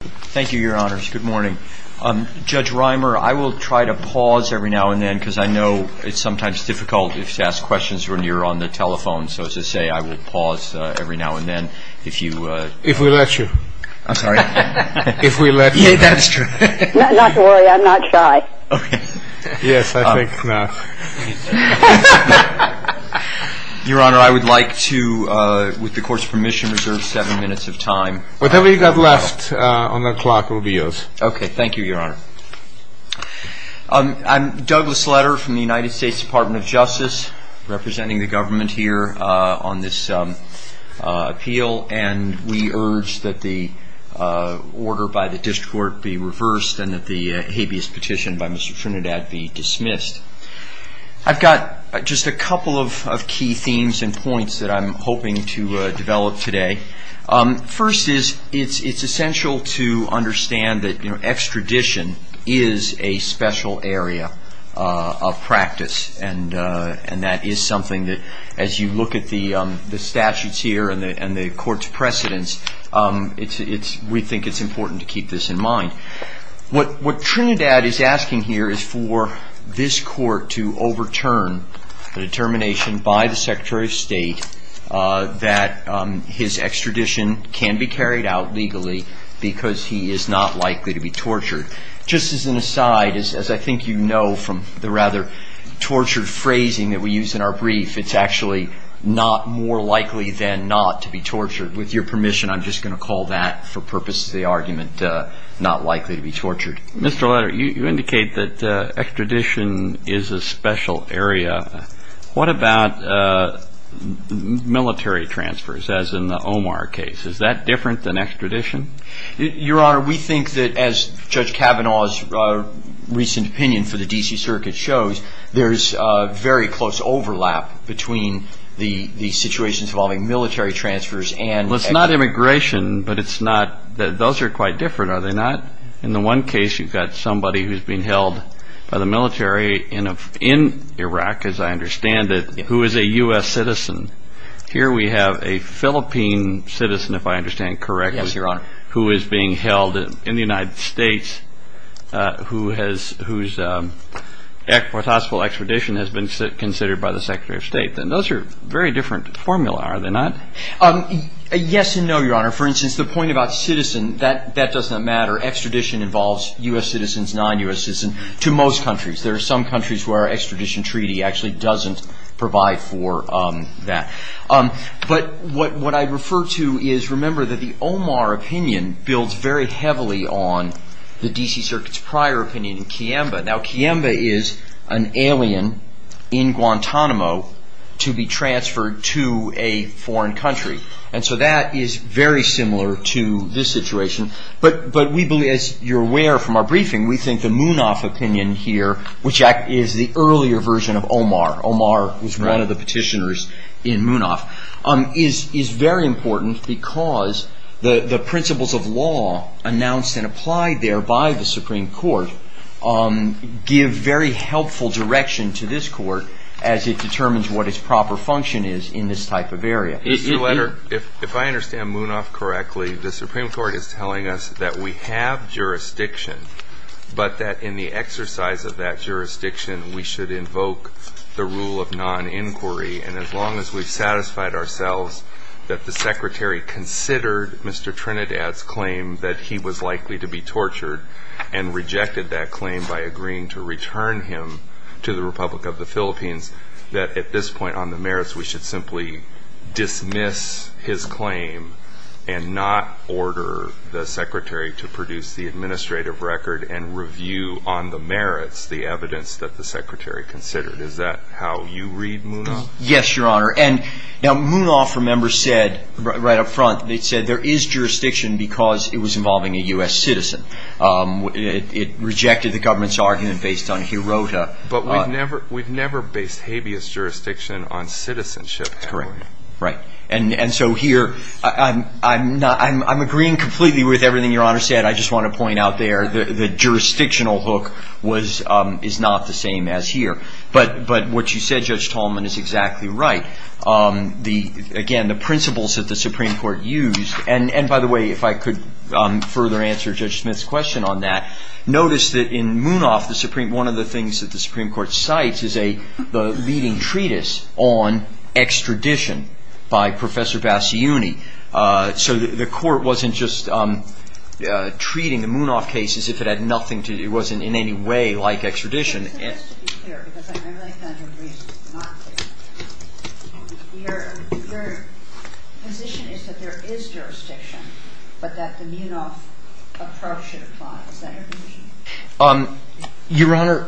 Thank you, Your Honors. Good morning. Judge Reimer, I will try to pause every now and then because I know it's sometimes difficult to ask questions when you're on the telephone, so as I say, I will pause every now and then if you... If we let you. I'm sorry. If we let you. Yeah, that's true. Not to worry, I'm not shy. Okay. Yes, I think now. Your Honor, I would like to, with the Court's permission, reserve seven minutes of time. Whatever you have left on the clock will be yours. Okay, thank you, Your Honor. I'm Douglas Sletter from the United States Department of Justice, representing the government here on this appeal, and we urge that the order by the District Court be reversed and that the habeas petition by Mr. Trinidad be dismissed. I've got just a couple of key themes and points that I'm hoping to develop today. First is, it's essential to understand that extradition is a special area of practice, and that is something that, as you look at the statutes here and the Court's precedents, we think it's important to keep this in mind. What Trinidad is asking here is for this Court to overturn the determination by the Secretary of State that his extradition can be carried out legally because he is not likely to be tortured. Mr. Sletter, you indicate that extradition is a special area. What about military transfers, as in the Omar case? Is that different than extradition? Your Honor, we think that, as Judge Kavanaugh's recent opinion for the D.C. Circuit shows, there's very close overlap between the situations involving military transfers and extradition. Well, it's not immigration, but those are quite different, are they not? In the one case, you've got somebody who's been held by the military in Iraq, as I understand it, who is a U.S. citizen. Here we have a Philippine citizen, if I understand correctly, who is being held in the United States, whose hospital extradition has been considered by the Secretary of State. Those are very different formulas, are they not? Yes and no, Your Honor. For instance, the point about citizen, that doesn't matter. Extradition involves U.S. citizens, non-U.S. citizens, to most countries. There are some countries where our extradition treaty actually doesn't provide for that. But what I refer to is, remember that the Omar opinion builds very heavily on the D.C. Circuit's prior opinion in Kiemba. Now, Kiemba is an alien in Guantanamo to be transferred to a foreign country. And so that is very similar to this situation. But we believe, as you're aware from our briefing, we think the Munaf opinion here, which is the earlier version of Omar, Omar was one of the petitioners in Munaf, is very important because the principles of law announced and applied there by the Supreme Court give very helpful direction to this court as it determines what its proper function is in this type of area. If I understand Munaf correctly, the Supreme Court is telling us that we have jurisdiction, but that in the exercise of that jurisdiction, we should invoke the rule of non-inquiry. And as long as we've satisfied ourselves that the Secretary considered Mr. Trinidad's claim that he was likely to be tortured and rejected that claim by agreeing to return him to the Republic of the Philippines, that at this point on the merits, we should simply dismiss his claim and not order the Secretary to produce the administrative record and review on the merits the evidence that the Secretary considered. Is that how you read Munaf? Yes, Your Honor. And now Munaf, remember, said right up front, they said there is jurisdiction because it was involving a U.S. citizen. It rejected the government's argument based on HIROTA. But we've never based habeas jurisdiction on citizenship. Correct. Right. And so here, I'm agreeing completely with everything Your Honor said. I just want to point out there the jurisdictional hook is not the same as here. But what you said, Judge Tallman, is exactly right. Again, the principles that the Supreme Court used, and by the way, if I could further answer Judge Smith's question on that, notice that in Munaf, one of the things that the Supreme Court cites is a leading treatise on extradition by Professor Bassiuni. So the court wasn't just treating the Munaf case as if it had nothing to do, it wasn't in any way like extradition. Your Honor,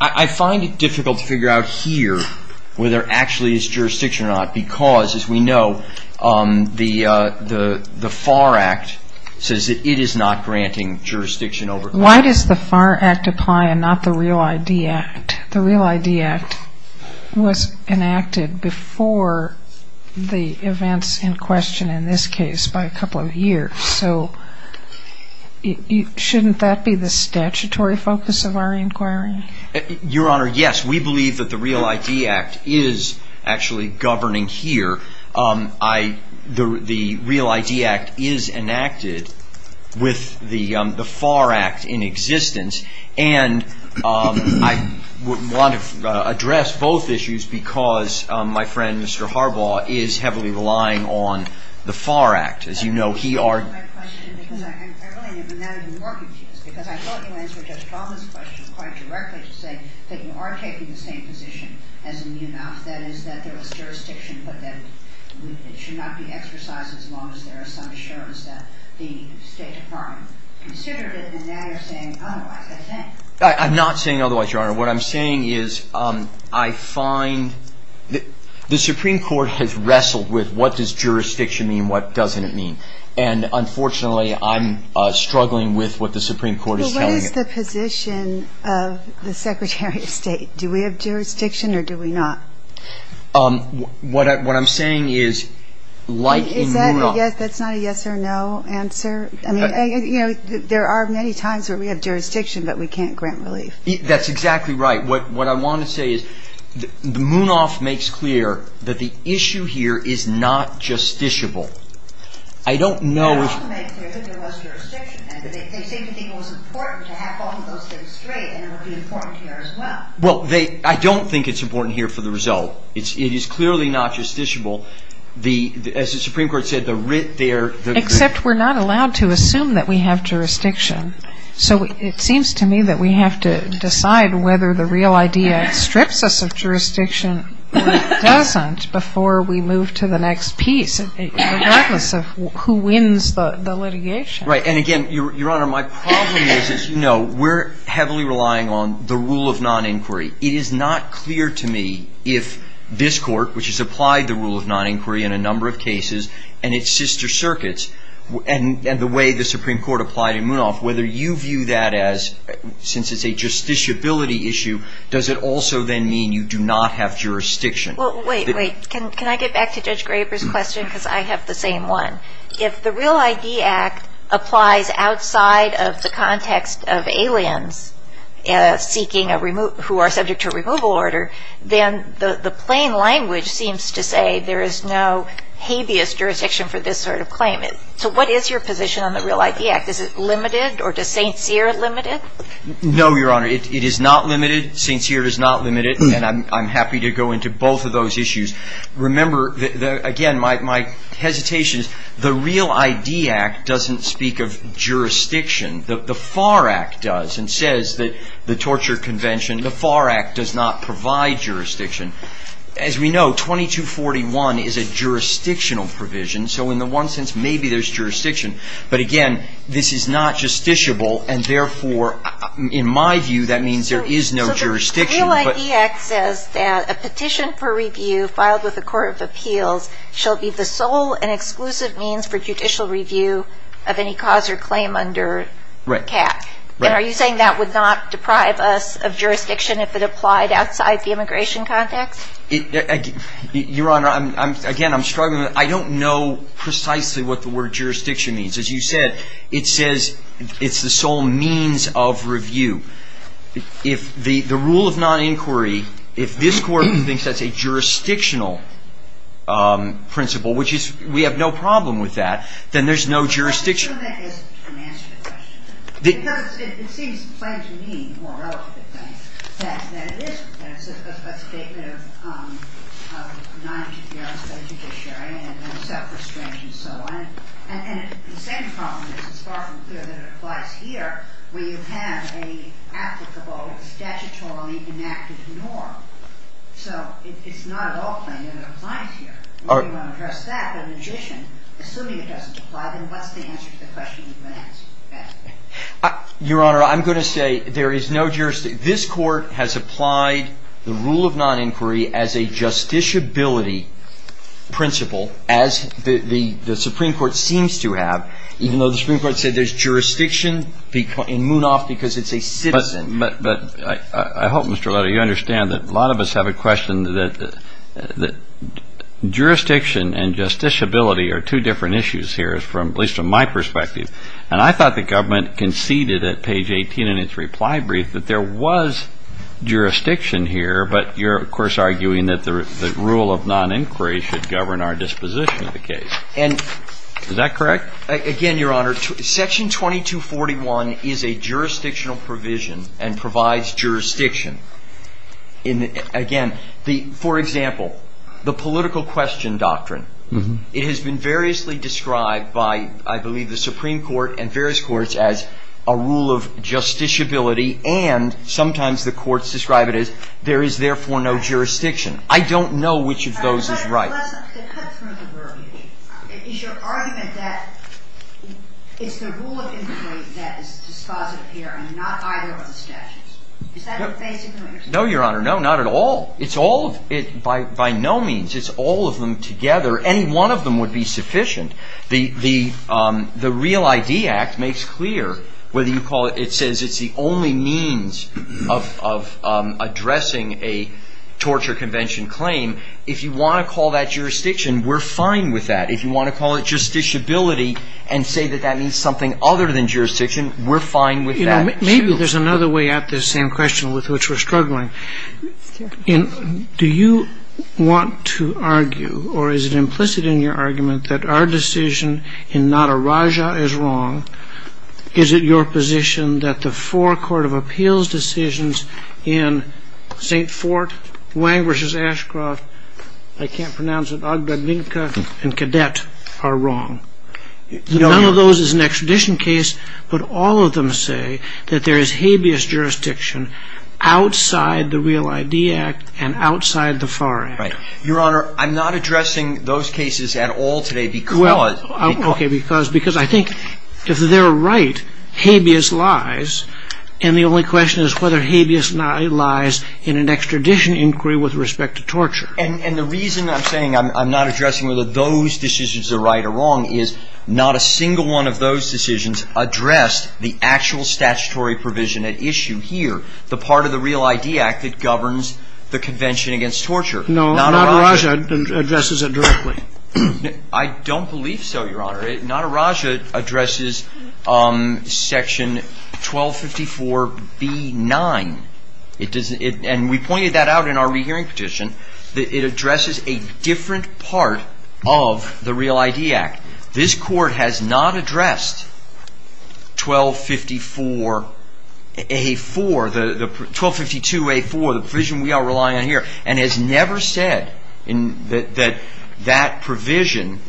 I find it difficult to figure out here whether there actually is jurisdiction or not, because, as we know, the FAR Act says that it is not granting jurisdiction over it. Why does the FAR Act apply and not the REAL ID Act? The REAL ID Act was enacted before the events in question in this case by a couple of years. So shouldn't that be the statutory focus of our inquiry? Your Honor, yes, we believe that the REAL ID Act is actually governing here. The REAL ID Act is enacted with the FAR Act in existence, and I want to address both issues because my friend, Mr. Harbaugh, is heavily relying on the FAR Act. My question isn't that. I really am not even working to this, because I thought the answer to Judge Feldman's question quite directly is to say that you are taking the same position as in Munaf, that is, that there was jurisdiction, but that it should not be exercised as long as there is some assurance that the State Department considered it, and now you're saying, otherwise, I think. I'm not saying otherwise, Your Honor. What I'm saying is I find the Supreme Court has wrestled with what does jurisdiction mean, what doesn't it mean, and unfortunately, I'm struggling with what the Supreme Court is telling us. Well, what is the position of the Secretary of State? Do we have jurisdiction or do we not? What I'm saying is like in Munaf. Is that a yes or no answer? I mean, you know, there are many times where we have jurisdiction, but we can't grant relief. That's exactly right. What I want to say is that Munaf makes clear that the issue here is not justiciable. I don't know if... Well, I don't think it's important here for the result. It is clearly not justiciable. As the Supreme Court said, the writ there... Except we're not allowed to assume that we have jurisdiction. So it seems to me that we have to decide whether the real idea strips us of jurisdiction or doesn't before we move to the next piece, regardless of who wins the litigation. Right, and again, Your Honor, my problem is, as you know, we're heavily relying on the rule of non-inquiry. It is not clear to me if this Court, which has applied the rule of non-inquiry in a number of cases and its sister circuits, and the way the Supreme Court applied it in Munaf, whether you view that as, since it's a justiciability issue, does it also then mean you do not have jurisdiction? Well, wait, wait. Can I get back to Judge Graber's question? Because I have the same one. If the Real ID Act applies outside of the context of aliens who are subject to a removal order, then the plain language seems to say there is no habeas jurisdiction for this sort of claim. So what is your position on the Real ID Act? Is it limited, or does St. Cyr limit it? No, Your Honor, it is not limited. St. Cyr is not limited, and I'm happy to go into both of those issues. Remember, again, my hesitation is the Real ID Act doesn't speak of jurisdiction. The FAR Act does, and says that the Torture Convention, the FAR Act does not provide jurisdiction. As we know, 2241 is a jurisdictional provision, so in the one sense, maybe there's jurisdiction. But again, this is not justiciable, and therefore, in my view, that means there is no jurisdiction. The Real ID Act says that a petition for review filed with the Court of Appeals shall be the sole and exclusive means for judicial review of any cause or claim under CAC. And are you saying that would not deprive us of jurisdiction if it applied outside the immigration context? Your Honor, again, I'm struggling. I don't know precisely what the word jurisdiction means. As you said, it says it's the sole means of review. If the rule of non-inquiry, if this Court thinks that's a jurisdictional principle, which is, we have no problem with that, then there's no jurisdiction. It seems plain to me, more or less, that it is a statement of non-injurious and judiciary and self-restraint and so on. And the same problem is as far as we could have it applied here, where you have a applicable statutory enactment of the norm. So it's not at all going to be applied here. Your Honor, I'm going to say there is no jurisdiction. This Court has applied the rule of non-inquiry as a justiciability principle, as the Supreme Court seems to have, even though the Supreme Court said there's jurisdiction in Munaf because it's a citizen. But I hope, Mr. Lutter, you understand that a lot of us have a question that jurisdiction and justiciability are two different issues here, at least from my perspective. And I thought the government conceded at page 18 in its reply brief that there was jurisdiction here, but you're, of course, arguing that the rule of non-inquiry should govern our disposition of the case. Is that correct? Again, Your Honor, Section 2241 is a jurisdictional provision and provides jurisdiction. Again, for example, the political question doctrine. It has been variously described by, I believe, the Supreme Court and various courts as a rule of justiciability, and sometimes the courts describe it as there is therefore no jurisdiction. I don't know which of those is right. Is your argument that it's the rule of inquiry that is dispositive here and not either of the statutes? No, Your Honor, no, not at all. It's all, by no means, it's all of them together, and one of them would be sufficient. The Real ID Act makes clear whether you call it, it says it's the only means of addressing a torture convention claim. If you want to call that jurisdiction, we're fine with that. If you want to call it justiciability and say that that means something other than jurisdiction, we're fine with that, too. Maybe there's another way at this same question with which we're struggling. And do you want to argue, or is it implicit in your argument, that our decision in Nadaraja is wrong? Is it your position that the four Court of Appeals decisions in St. Fort, Wang v. Ashcroft, I can't pronounce it, Ogdeninka, and Cadet are wrong? None of those is an extradition case, but all of them say that there is habeas jurisdiction outside the Real ID Act and outside the FAR Act. Your Honor, I'm not addressing those cases at all today because... Okay, because I think if they're right, habeas lies, and the only question is whether habeas lies in an extradition inquiry with respect to torture. And the reason I'm saying I'm not addressing whether those decisions are right or wrong is not a single one of those decisions address the actual statutory provision at issue here, the part of the Real ID Act that governs the Convention Against Torture. No, Nadaraja addresses it directly. I don't believe so, Your Honor. Nadaraja addresses Section 1254b-9. And we pointed that out in our rehearing petition. It addresses a different part of the Real ID Act. This Court has not addressed 1252a-4, the provision we are relying on here, and has never said that that provision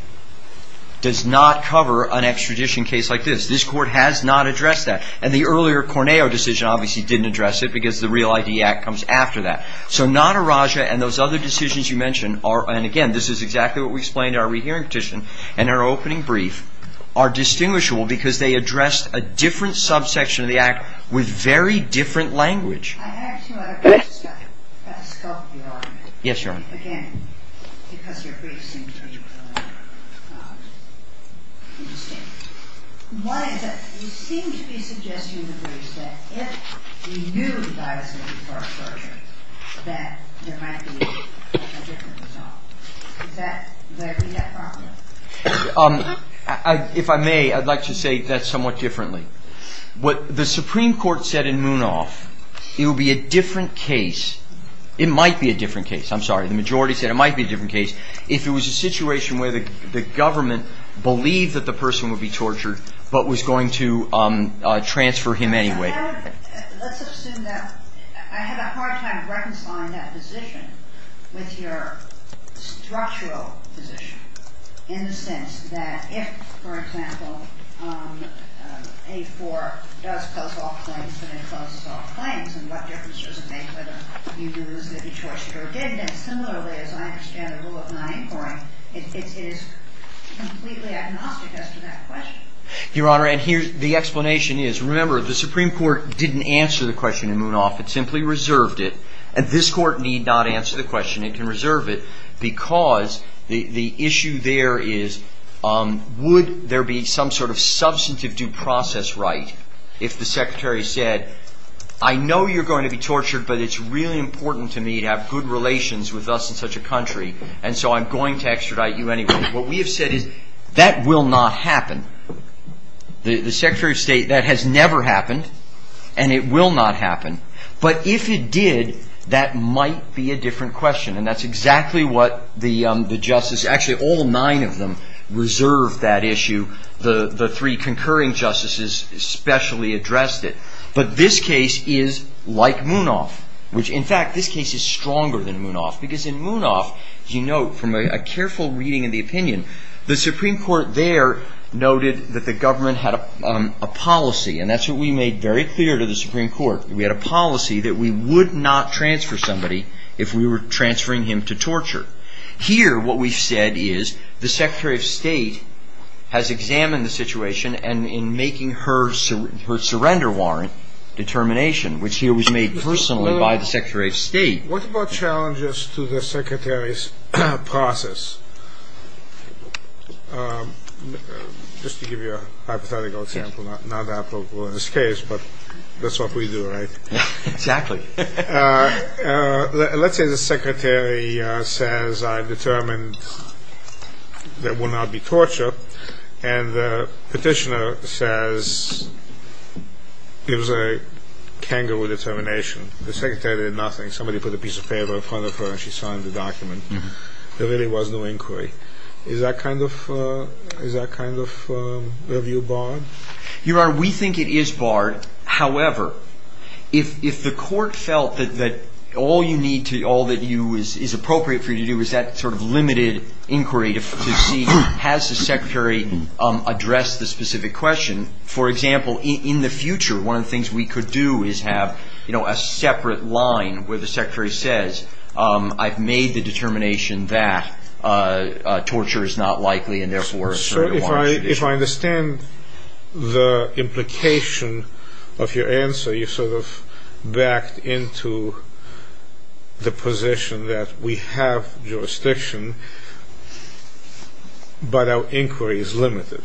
does not cover an extradition case like this. This Court has not addressed that. And the earlier Corneo decision obviously didn't address it because the Real ID Act comes after that. So, Nadaraja and those other decisions you mentioned are, and again, this is exactly what we explained in our rehearing petition and our opening brief, are distinguishable because they address a different subsection of the Act with very different language. I actually have a question about 1254b-9. Yes, Your Honor. Again, because you're facing two different issues. One is that you seem to be suggesting to me that if we knew that there was going to be torture, that there might be a different result. Is that where we have problems? If I may, I'd like to say that somewhat differently. What the Supreme Court said in Munoz, it would be a different case, it might be a different case, I'm sorry, the majority said it might be a different case, if it was a situation where the government believed that the person would be tortured but was going to transfer him anyway. Let's assume that, I had a hard time reconciling that position with your structural position in the sense that if, for example, A4 does post all claims and it posts all claims, and the judge is just going to make whether you do or do not make a choice here or did, then similarly as I understand the rule of non-inferring, it is completely agnostic as to that question. Your Honor, the explanation is, remember, the Supreme Court didn't answer the question in Munoz, it simply reserved it, and this Court need not answer the question, it can reserve it, because the issue there is, would there be some sort of substantive due process right if the Secretary said, I know you're going to be tortured, but it's really important to me to have good relations with us in such a country, and so I'm going to extradite you anyway. What we have said is, that will not happen. The Secretary of State, that has never happened, and it will not happen. But if it did, that might be a different question, and that's exactly what the Justice, actually all nine of them, reserved that issue, the three concurring Justices especially addressed it. But this case is like Munoz, which in fact this case is stronger than Munoz. Because in Munoz, you note from a careful reading of the opinion, the Supreme Court there noted that the government had a policy, and that's what we made very clear to the Supreme Court. We had a policy that we would not transfer somebody if we were transferring him to torture. Here, what we've said is, the Secretary of State has examined the situation in making her surrender warrant determination, which here was made personally by the Secretary of State. What about challenges to the Secretary's process? Just to give you a hypothetical example, not applicable in this case, but that's what we do, right? Exactly. Let's say the Secretary says I've determined there will not be torture, and the Petitioner says it was a kangaroo determination. The Secretary did nothing, somebody put a piece of paper in front of her and she signed the document. There really was no inquiry. Is that kind of review barred? Your Honor, we think it is barred. However, if the court felt that all that is appropriate for you to do is that sort of limited inquiry to see has the Secretary addressed the specific question, for example, in the future, one of the things we could do is have a separate line where the Secretary says, I've made the determination that torture is not likely, and therefore a surrender warrant should be issued. Your Honor, if I understand the implication of your answer, you sort of backed into the position that we have jurisdiction, but our inquiry is limited.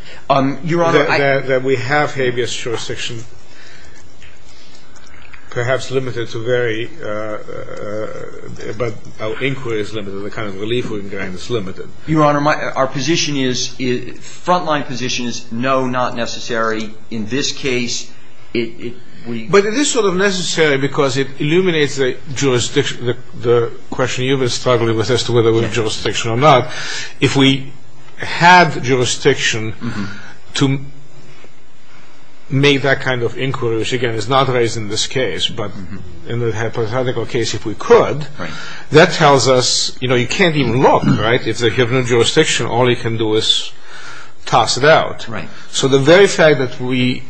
Your Honor, I... That we have habeas jurisdiction, perhaps limited to very, but our inquiry is limited, the kind of relief we're getting is limited. Your Honor, our position is, frontline position is no, not necessary in this case. But it is sort of necessary because it eliminates the jurisdiction, the question you were struggling with as to whether we have jurisdiction or not. If we had jurisdiction to make that kind of inquiry, which again is not raised in this case, but in the hypothetical case if we could, that tells us, you know, you can't even look, right, if you have no jurisdiction, all you can do is toss it out. So the very fact that we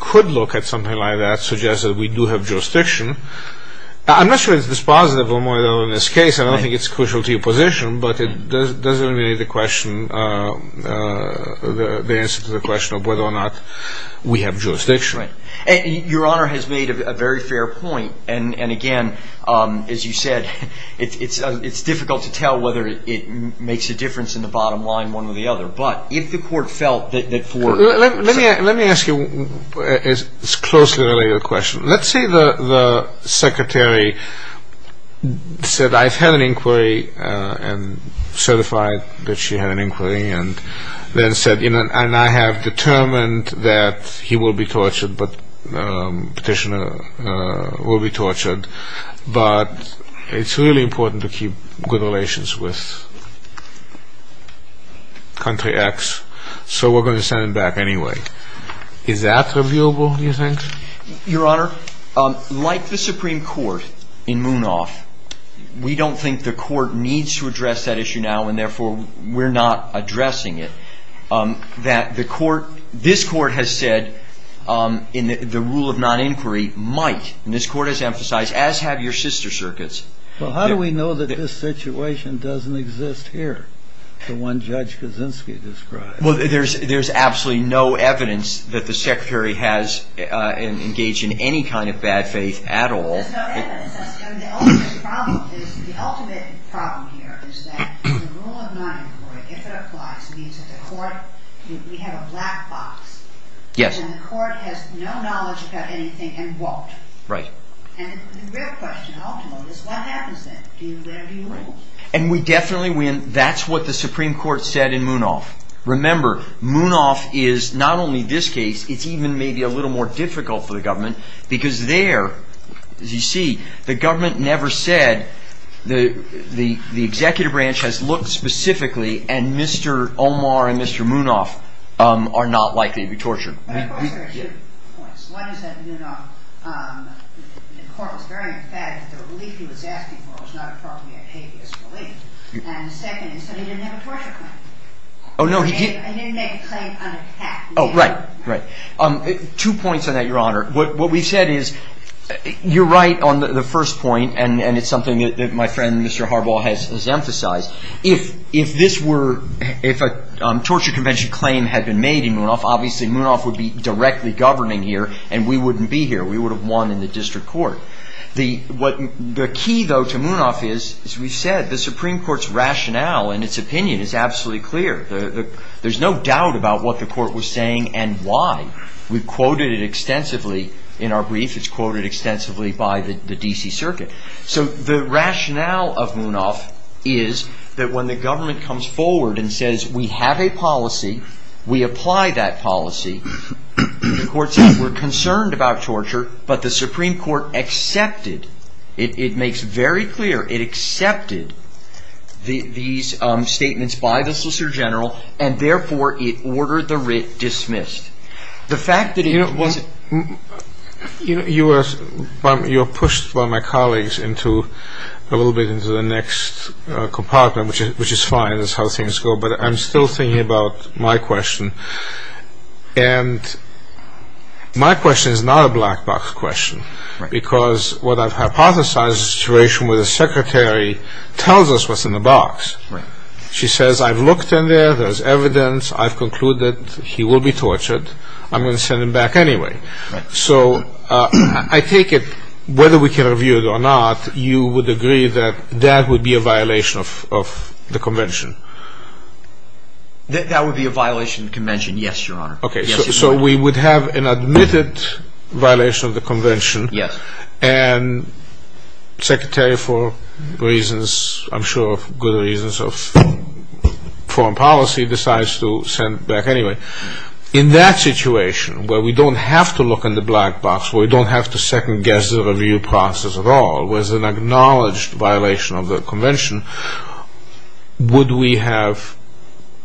could look at something like that suggests that we do have jurisdiction. I'm not sure if it's positive or negative in this case, I don't think it's crucial to your position, but it doesn't eliminate the question, the answer to the question of whether or not we have jurisdiction. Your Honor has made a very fair point, and again, as you said, it's difficult to tell whether it makes a difference in the bottom line one way or the other. But if the court felt that for... Let me ask you a closely related question. Let's say the secretary said I've had an inquiry and certified that she had an inquiry and then said, you know, and I have determined that he will be tortured, the petitioner will be tortured, but it's really important to keep good relations with country X, so we're going to send him back anyway. Is that reviewable, do you think? Your Honor, like the Supreme Court in Munoz, we don't think the court needs to address that issue now, and therefore we're not addressing it, that the court, this court has said in the rule of non-inquiry, might, and this court has emphasized, as have your sister circuits. So how do we know that this situation doesn't exist here, the one Judge Kaczynski described? Well, there's absolutely no evidence that the secretary has engaged in any kind of bad faith at all. The ultimate problem here is that the rule of non-inquiry, if it applies, means that the court, we have a black box. Yes. And the court has no knowledge about anything and won't. Right. And the real question, ultimately, is what happens then? Do there be rules? And we definitely win, that's what the Supreme Court said in Munoz. Remember, Munoz is, not only this case, it's even maybe a little more difficult for the government, because there, as you see, the government never said, the executive branch has looked specifically, and Mr. Omar and Mr. Munoz are not likely to be tortured. Two points on that, Your Honor. What we said is, you're right on the first point, and it's something that my friend Mr. Harbaugh has emphasized. If a torture convention claim had been made in Munoz, obviously Munoz would be directly governing here, and we wouldn't be here, we would have won in the district court. The key, though, to Munoz is, as we said, the Supreme Court's rationale and its opinion is absolutely clear. There's no doubt about what the court was saying and why. We've quoted it extensively in our brief, it's quoted extensively by the D.C. Circuit. So, the rationale of Munoz is that when the government comes forward and says, we have a policy, we apply that policy, the court says, we're concerned about torture, but the Supreme Court accepted, it makes very clear, it accepted these statements by the Solicitor General, and therefore it ordered the writ dismissed. You know, you were pushed by my colleagues a little bit into the next compartment, which is fine, that's how things go, but I'm still thinking about my question, and my question is not a black box question, because what I've hypothesized is a situation where the secretary tells us what's in the box. She says, I've looked in there, there's evidence, I've concluded he will be tortured, I'm going to send him back anyway. So, I take it, whether we can review it or not, you would agree that that would be a violation of the convention? That would be a violation of the convention, yes, Your Honor. So, we would have an admitted violation of the convention, and the secretary, for reasons, I'm sure, good reasons of foreign policy, decides to send him back anyway. In that situation, where we don't have to look in the black box, where we don't have to second-guess the review process at all, where there's an acknowledged violation of the convention, would we have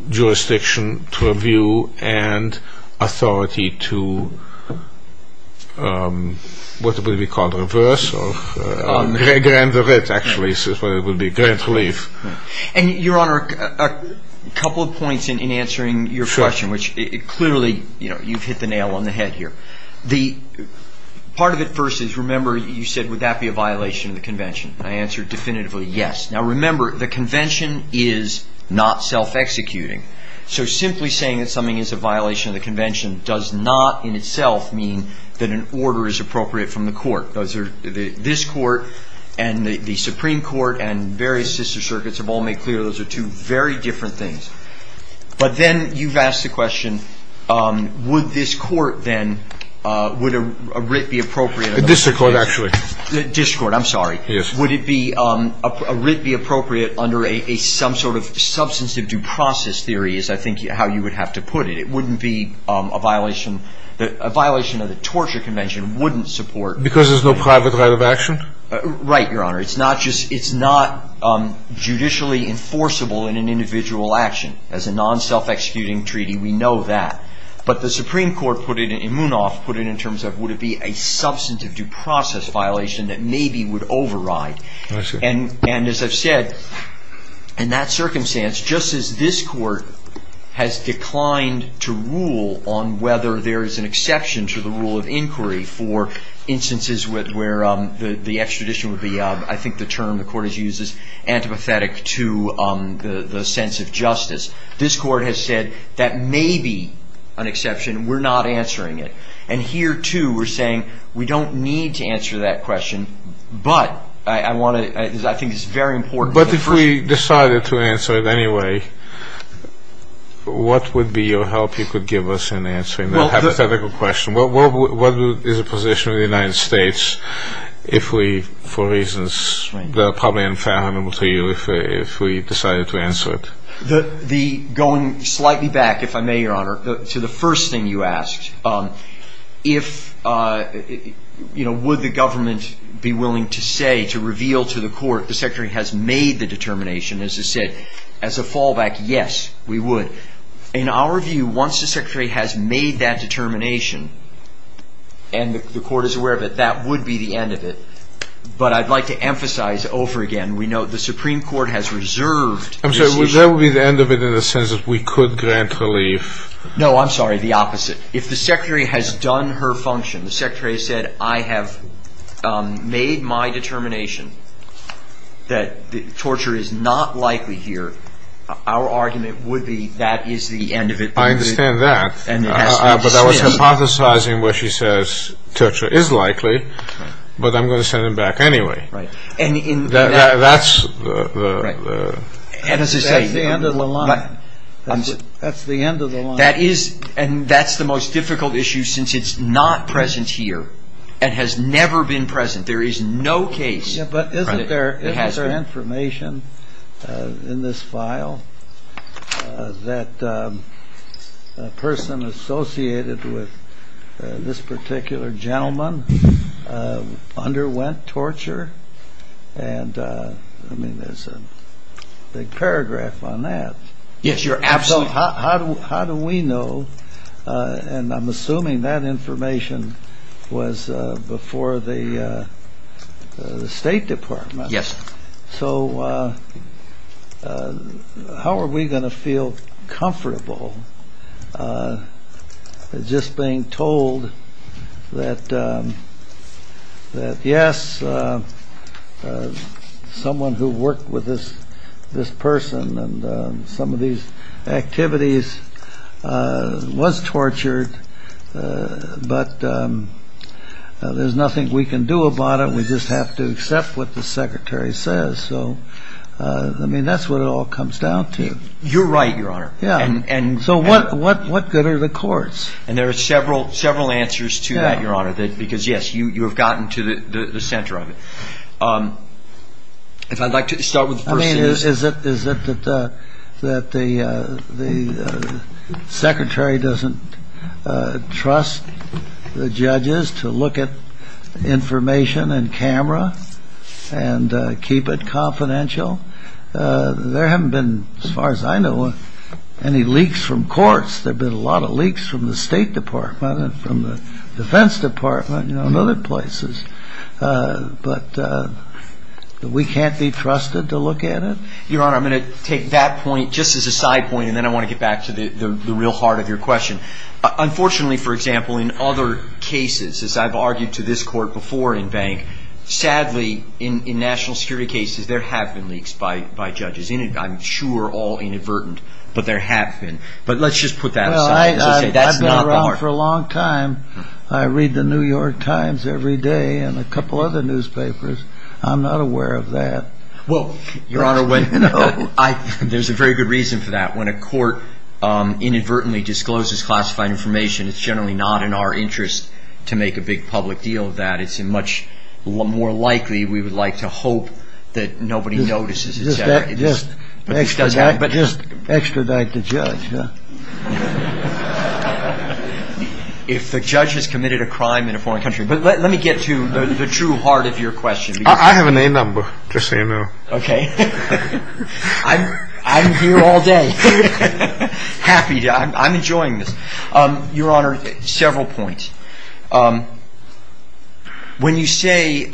jurisdiction to review and authority to, what would be called, reverse? Actually, it would be grand relief. And, Your Honor, a couple of points in answering your question, which clearly, you know, you've hit the nail on the head here. Part of it, first, is, remember, you said, would that be a violation of the convention? I answered definitively, yes. Now, remember, the convention is not self-executing. So, simply saying that something is a violation of the convention does not, in itself, mean that an order is appropriate from the court. This court and the Supreme Court and various sister circuits have all made clear those are two very different things. But then, you've asked the question, would this court, then, would a writ be appropriate? A district court, actually. A district court, I'm sorry. Yes. Would a writ be appropriate under some sort of substantive due process theory, is, I think, how you would have to put it? It wouldn't be a violation. A violation of the torture convention wouldn't support. Because there's no private right of action? Right, Your Honor. It's not just, it's not judicially enforceable in an individual action. As a non-self-executing treaty, we know that. But the Supreme Court put it, and Munoz put it in terms of, would it be a substantive due process violation that maybe would override? I see. This is where the extradition would be, I think, the term the court has used is antipathetic to the sense of justice. This court has said, that may be an exception. We're not answering it. And here, too, we're saying, we don't need to answer that question, but I want to, I think it's very important. But if we decided to answer it anyway, what would be your help you could give us in answering the hypothetical question? What is the position of the United States if we, for reasons that are probably unfathomable to you, if we decided to answer it? The, going slightly back, if I may, Your Honor, to the first thing you asked. If, you know, would the government be willing to say, to reveal to the court, the Secretary has made the determination, as I said, as a fallback, yes, we would. In our view, once the Secretary has made that determination, and the court is aware of it, that would be the end of it. But I'd like to emphasize over again, we know the Supreme Court has reserved. I'm sorry, reserved would be the end of it in the sense that we could grant relief. No, I'm sorry, the opposite. If the Secretary has done her function, the Secretary has said, I have made my determination that torture is not likely here, our argument would be that is the end of it. I understand that, but I was hypothesizing where she says torture is likely, but I'm going to send him back anyway. That's the end of the line. That's the end of the line. And that's the most difficult issue since it's not present here. It has never been present. There is no case. But isn't there information in this file that a person associated with this particular gentleman underwent torture? And I mean, there's a big paragraph on that. Yes, Your Honor. So how do we know? And I'm assuming that information was before the State Department. Yes. So how are we going to feel comfortable just being told that, yes, someone who worked with this person and some of these activities was tortured, but there's nothing we can do about it. We just have to accept what the Secretary says. So I mean, that's what it all comes down to. You're right, Your Honor. Yeah. So what good are the courts? And there are several answers to that, Your Honor, because, yes, you have gotten to the center of it. I mean, is it that the Secretary doesn't trust the judges to look at information and camera and keep it confidential? There haven't been, as far as I know, any leaks from courts. There have been a lot of leaks from the State Department and from the Defense Department and other places. But we can't be trusted to look at it? Your Honor, I'm going to take that point just as a side point, and then I want to get back to the real heart of your question. Unfortunately, for example, in other cases, as I've argued to this court before in Vang, sadly, in national security cases, there have been leaks by judges. I'm sure all inadvertent, but there have been. But let's just put that aside. I've been around for a long time. I read the New York Times every day and a couple other newspapers. I'm not aware of that. Well, Your Honor, there's a very good reason for that. When a court inadvertently discloses classified information, it's generally not in our interest to make a big public deal of that. It's much more likely we would like to hope that nobody notices. Just extradite the judge. If the judge has committed a crime in a foreign country. But let me get to the true heart of your question. I have an A number, just so you know. Okay. I'm here all day. Happy. I'm enjoying this. Your Honor, several points. When you say,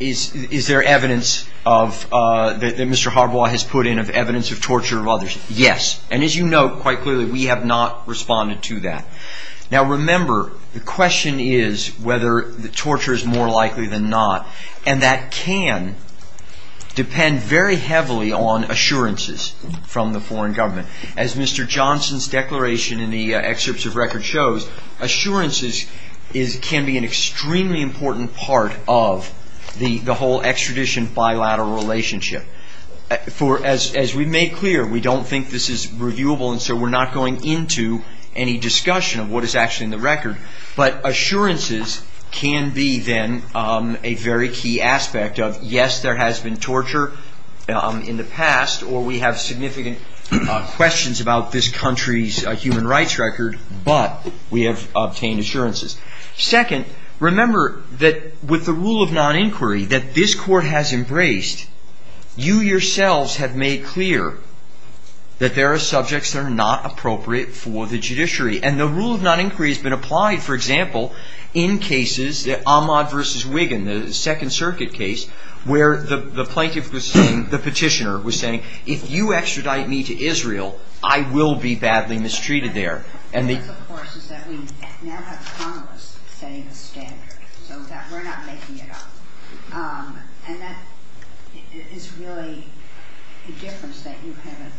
is there evidence that Mr. Harbois has put in of evidence of torture of others? Yes. And as you know, quite clearly, we have not responded to that. Now, remember, the question is whether the torture is more likely than not. And that can depend very heavily on assurances from the foreign government. As Mr. Johnson's declaration in the excerpts of record shows, assurances can be an extremely important part of the whole extradition bilateral relationship. As we've made clear, we don't think this is reviewable, and so we're not going into any discussion of what is actually in the record. But assurances can be, then, a very key aspect of, yes, there has been torture in the past. Or we have significant questions about this country's human rights record. But we have obtained assurances. Second, remember that with the rule of non-inquiry that this Court has embraced, you yourselves have made clear that there are subjects that are not appropriate for the judiciary. And the rule of non-inquiry has been applied, for example, in cases, Ahmad v. Wiggin, the Second Circuit case, where the plaintiff was saying, the petitioner was saying, if you extradite me to Israel, I will be badly mistreated there. And that is really the difference that you haven't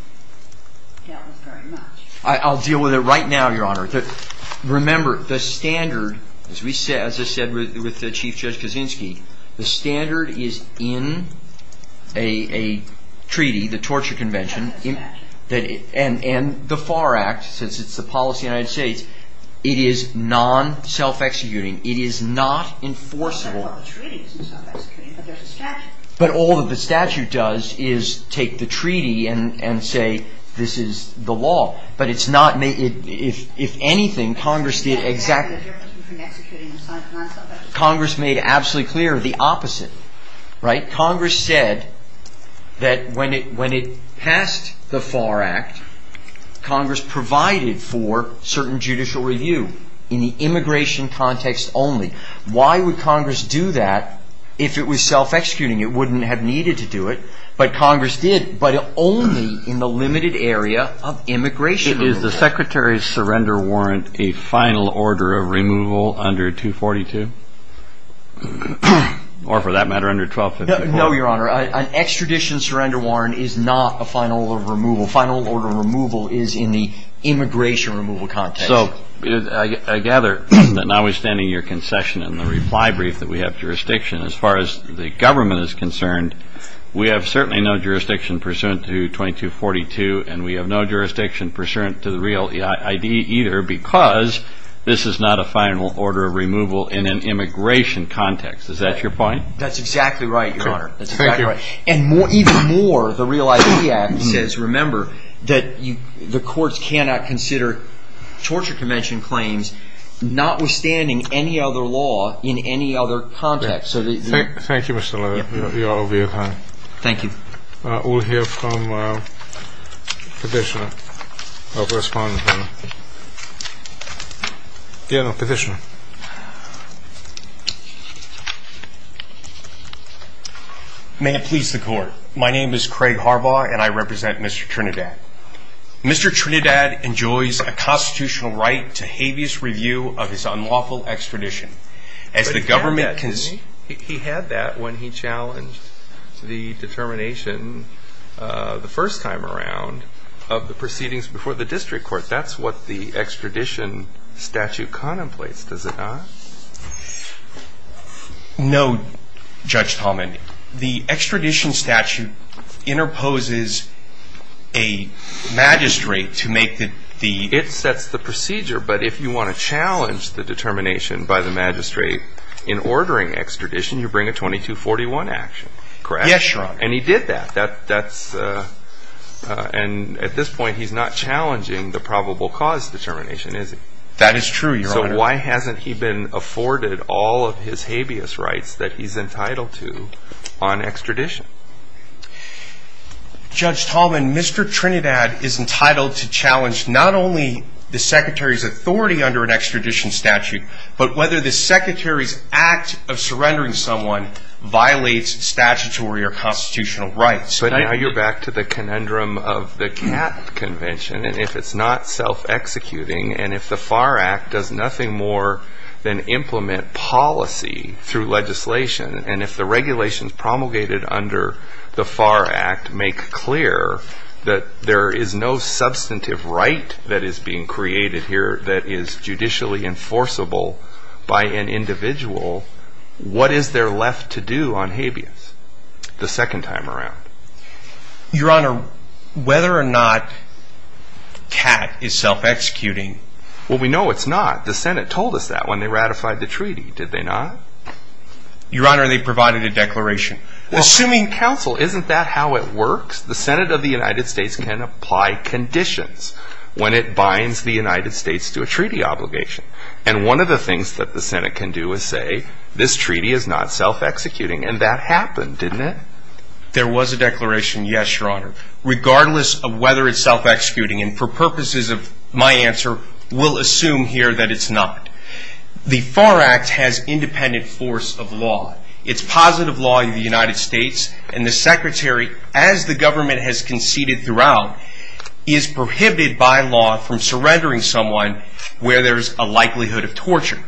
dealt with very much. I'll deal with it right now, Your Honor. Remember, the standard, as I said with Chief Judge Kaczynski, the standard is in a treaty, the Torture Convention, and the FAR Act, since it's the policy of the United States, it is non-self-executing. It is not enforceable. But all that the statute does is take the treaty and say, this is the law. But it's not, if anything, Congress did exactly, Congress made absolutely clear the opposite. Right? Congress said that when it passed the FAR Act, Congress provided for certain judicial review in the immigration context only. Why would Congress do that if it was self-executing? It wouldn't have needed to do it. But Congress did, but only in the limited area of immigration. Is the Secretary's surrender warrant a final order of removal under 242? Or, for that matter, under 1256? No, Your Honor. An extradition surrender warrant is not a final order of removal. Final order of removal is in the immigration removal context. So, I gather that notwithstanding your concession in the reply brief that we have jurisdiction, as far as the government is concerned, we have certainly no jurisdiction pursuant to 2242, and we have no jurisdiction pursuant to the Real ID either because this is not a final order of removal in an immigration context. Is that your point? That's exactly right, Your Honor. Thank you. And even more, the Real ID Act is, remember, that the courts cannot consider torture convention claims notwithstanding any other law in any other context. Thank you, Mr. Lerner. You're over your time. Thank you. We'll hear from Petitioner. No response, Your Honor. Yeah, no, Petitioner. May it please the Court. My name is Craig Harbaugh and I represent Mr. Trinidad. Mr. Trinidad enjoys a constitutional right to habeas review of his unlawful extradition. He had that when he challenged the determination the first time around of the proceedings before the district court. That's what the extradition statute contemplates, does it not? No, Judge Talman. The extradition statute interposes a magistrate to make the... It sets the procedure, but if you want to challenge the determination by the magistrate in ordering extradition, you bring a 2241 action, correct? Yes, Your Honor. And he did that. And at this point, he's not challenging the probable cause determination, is he? That is true, Your Honor. So why hasn't he been afforded all of his habeas rights that he's entitled to on extradition? Judge Talman, Mr. Trinidad is entitled to challenge not only the secretary's authority under an extradition statute, but whether the secretary's act of surrendering someone violates statutory or constitutional rights. So now you're back to the conundrum of the CATS Convention, and if it's not self-executing, and if the FAR Act does nothing more than implement policy through legislation, and if the regulations promulgated under the FAR Act make clear that there is no substantive right that is being created here that is judicially enforceable by an individual, what is there left to do on habeas the second time around? Your Honor, whether or not CAT is self-executing... Well, we know it's not. The Senate told us that when they ratified the treaty, did they not? Your Honor, they provided a declaration. Assuming counsel, isn't that how it works? The Senate of the United States can apply conditions when it binds the United States to a treaty obligation. And one of the things that the Senate can do is say, this treaty is not self-executing, and that happened, didn't it? There was a declaration, yes, Your Honor. Regardless of whether it's self-executing, and for purposes of my answer, we'll assume here that it's not. The FAR Act has independent force of law. It's positive law in the United States, and the Secretary, as the government has conceded throughout, is prohibited by law from surrendering someone where there's a likelihood of torture.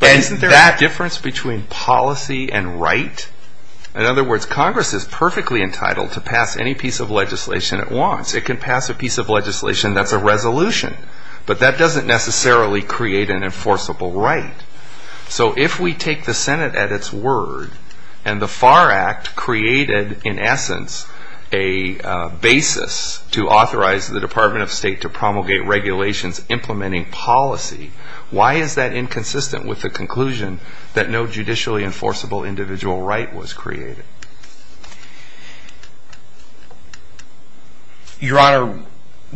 Isn't there a difference between policy and right? In other words, Congress is perfectly entitled to pass any piece of legislation it wants. It can pass a piece of legislation that's a resolution, but that doesn't necessarily create an enforceable right. So if we take the Senate at its word, and the FAR Act created, in essence, a basis to authorize the Department of State to promulgate regulations implementing policy, why is that inconsistent with the conclusion that no judicially enforceable individual right was created? Your Honor,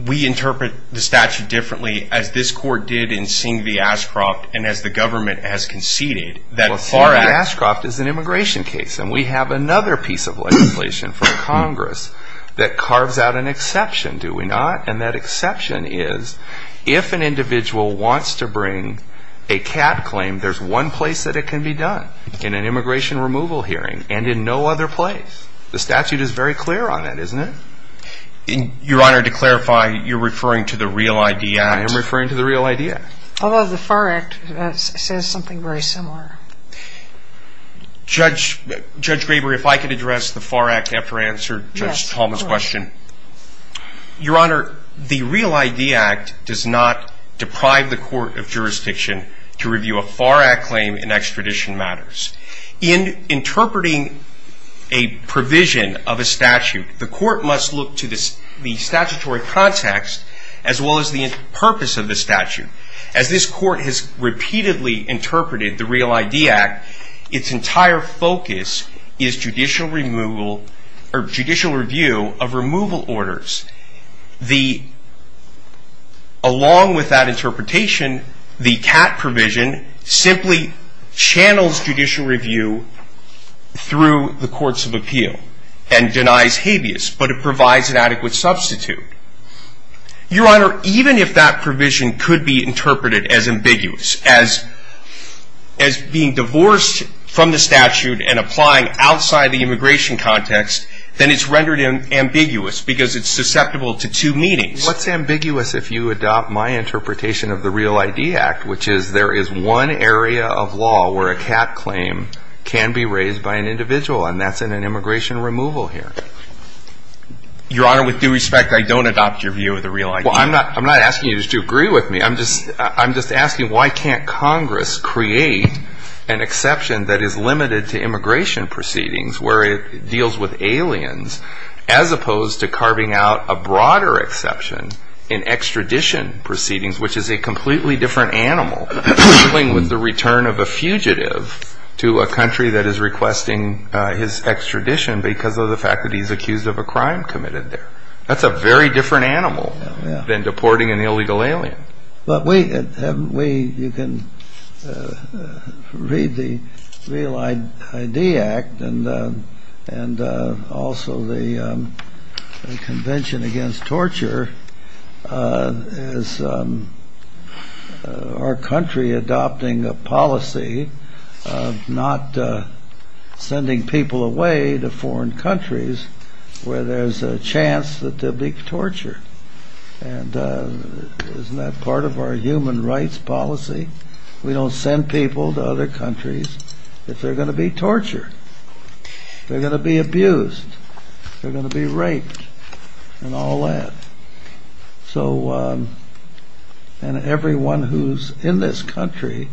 we interpret the statute differently. As this Court did in Singh v. Ashcroft, and as the government has conceded, that FAR Act... Well, Singh v. Ashcroft is an immigration case, and we have another piece of legislation from Congress that carves out an exception, do we not? And that exception is, if an individual wants to bring a CAT claim, there's one place that it can be done, in an immigration removal hearing, and in no other place. The statute is very clear on that, isn't it? Your Honor, to clarify, you're referring to the REAL ID Act? I am referring to the REAL ID Act. Although the FAR Act says something very similar. Judge Graber, if I could address the FAR Act after I answer Judge Palmer's question. Yes, of course. Your Honor, the REAL ID Act does not deprive the Court of jurisdiction to review a FAR Act claim in extradition matters. In interpreting a provision of a statute, the Court must look to the statutory context, as well as the purpose of the statute. As this Court has repeatedly interpreted the REAL ID Act, its entire focus is judicial review of removal orders. Along with that interpretation, the CAT provision simply channels judicial review through the Courts of Appeal, and denies habeas, but it provides an adequate substitute. Your Honor, even if that provision could be interpreted as ambiguous, as being divorced from the statute and applying outside the immigration context, then it's rendered ambiguous because it's susceptible to two meetings. What's ambiguous if you adopt my interpretation of the REAL ID Act, which is there is one area of law where a CAT claim can be raised by an individual, and that's in an immigration removal hearing? Your Honor, with due respect, I don't adopt your view of the REAL ID Act. Well, I'm not asking you to agree with me. I'm just asking why can't Congress create an exception that is limited to immigration proceedings, where it deals with aliens, as opposed to carving out a broader exception in extradition proceedings, which is a completely different animal, dealing with the return of a fugitive to a country that is requesting his extradition because of the fact that he's accused of a crime committed there. That's a very different animal than deporting an illegal alien. You can read the REAL ID Act, and also the Convention Against Torture, is our country adopting a policy of not sending people away to foreign countries where there's a chance that there'll be torture. And isn't that part of our human rights policy? We don't send people to other countries if there's going to be torture. They're going to be abused. They're going to be raped, and all that. So, and everyone who's in this country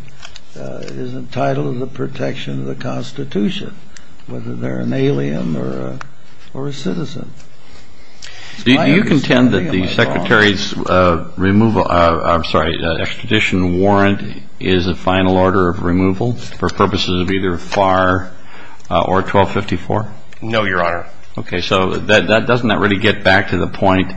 is entitled to the protection of the Constitution, whether they're an alien or a citizen. Do you contend that the Secretary's extradition warrant is a final order of removal for purposes of either FAR or 1254? No, Your Honor. Okay, so doesn't that really get back to the point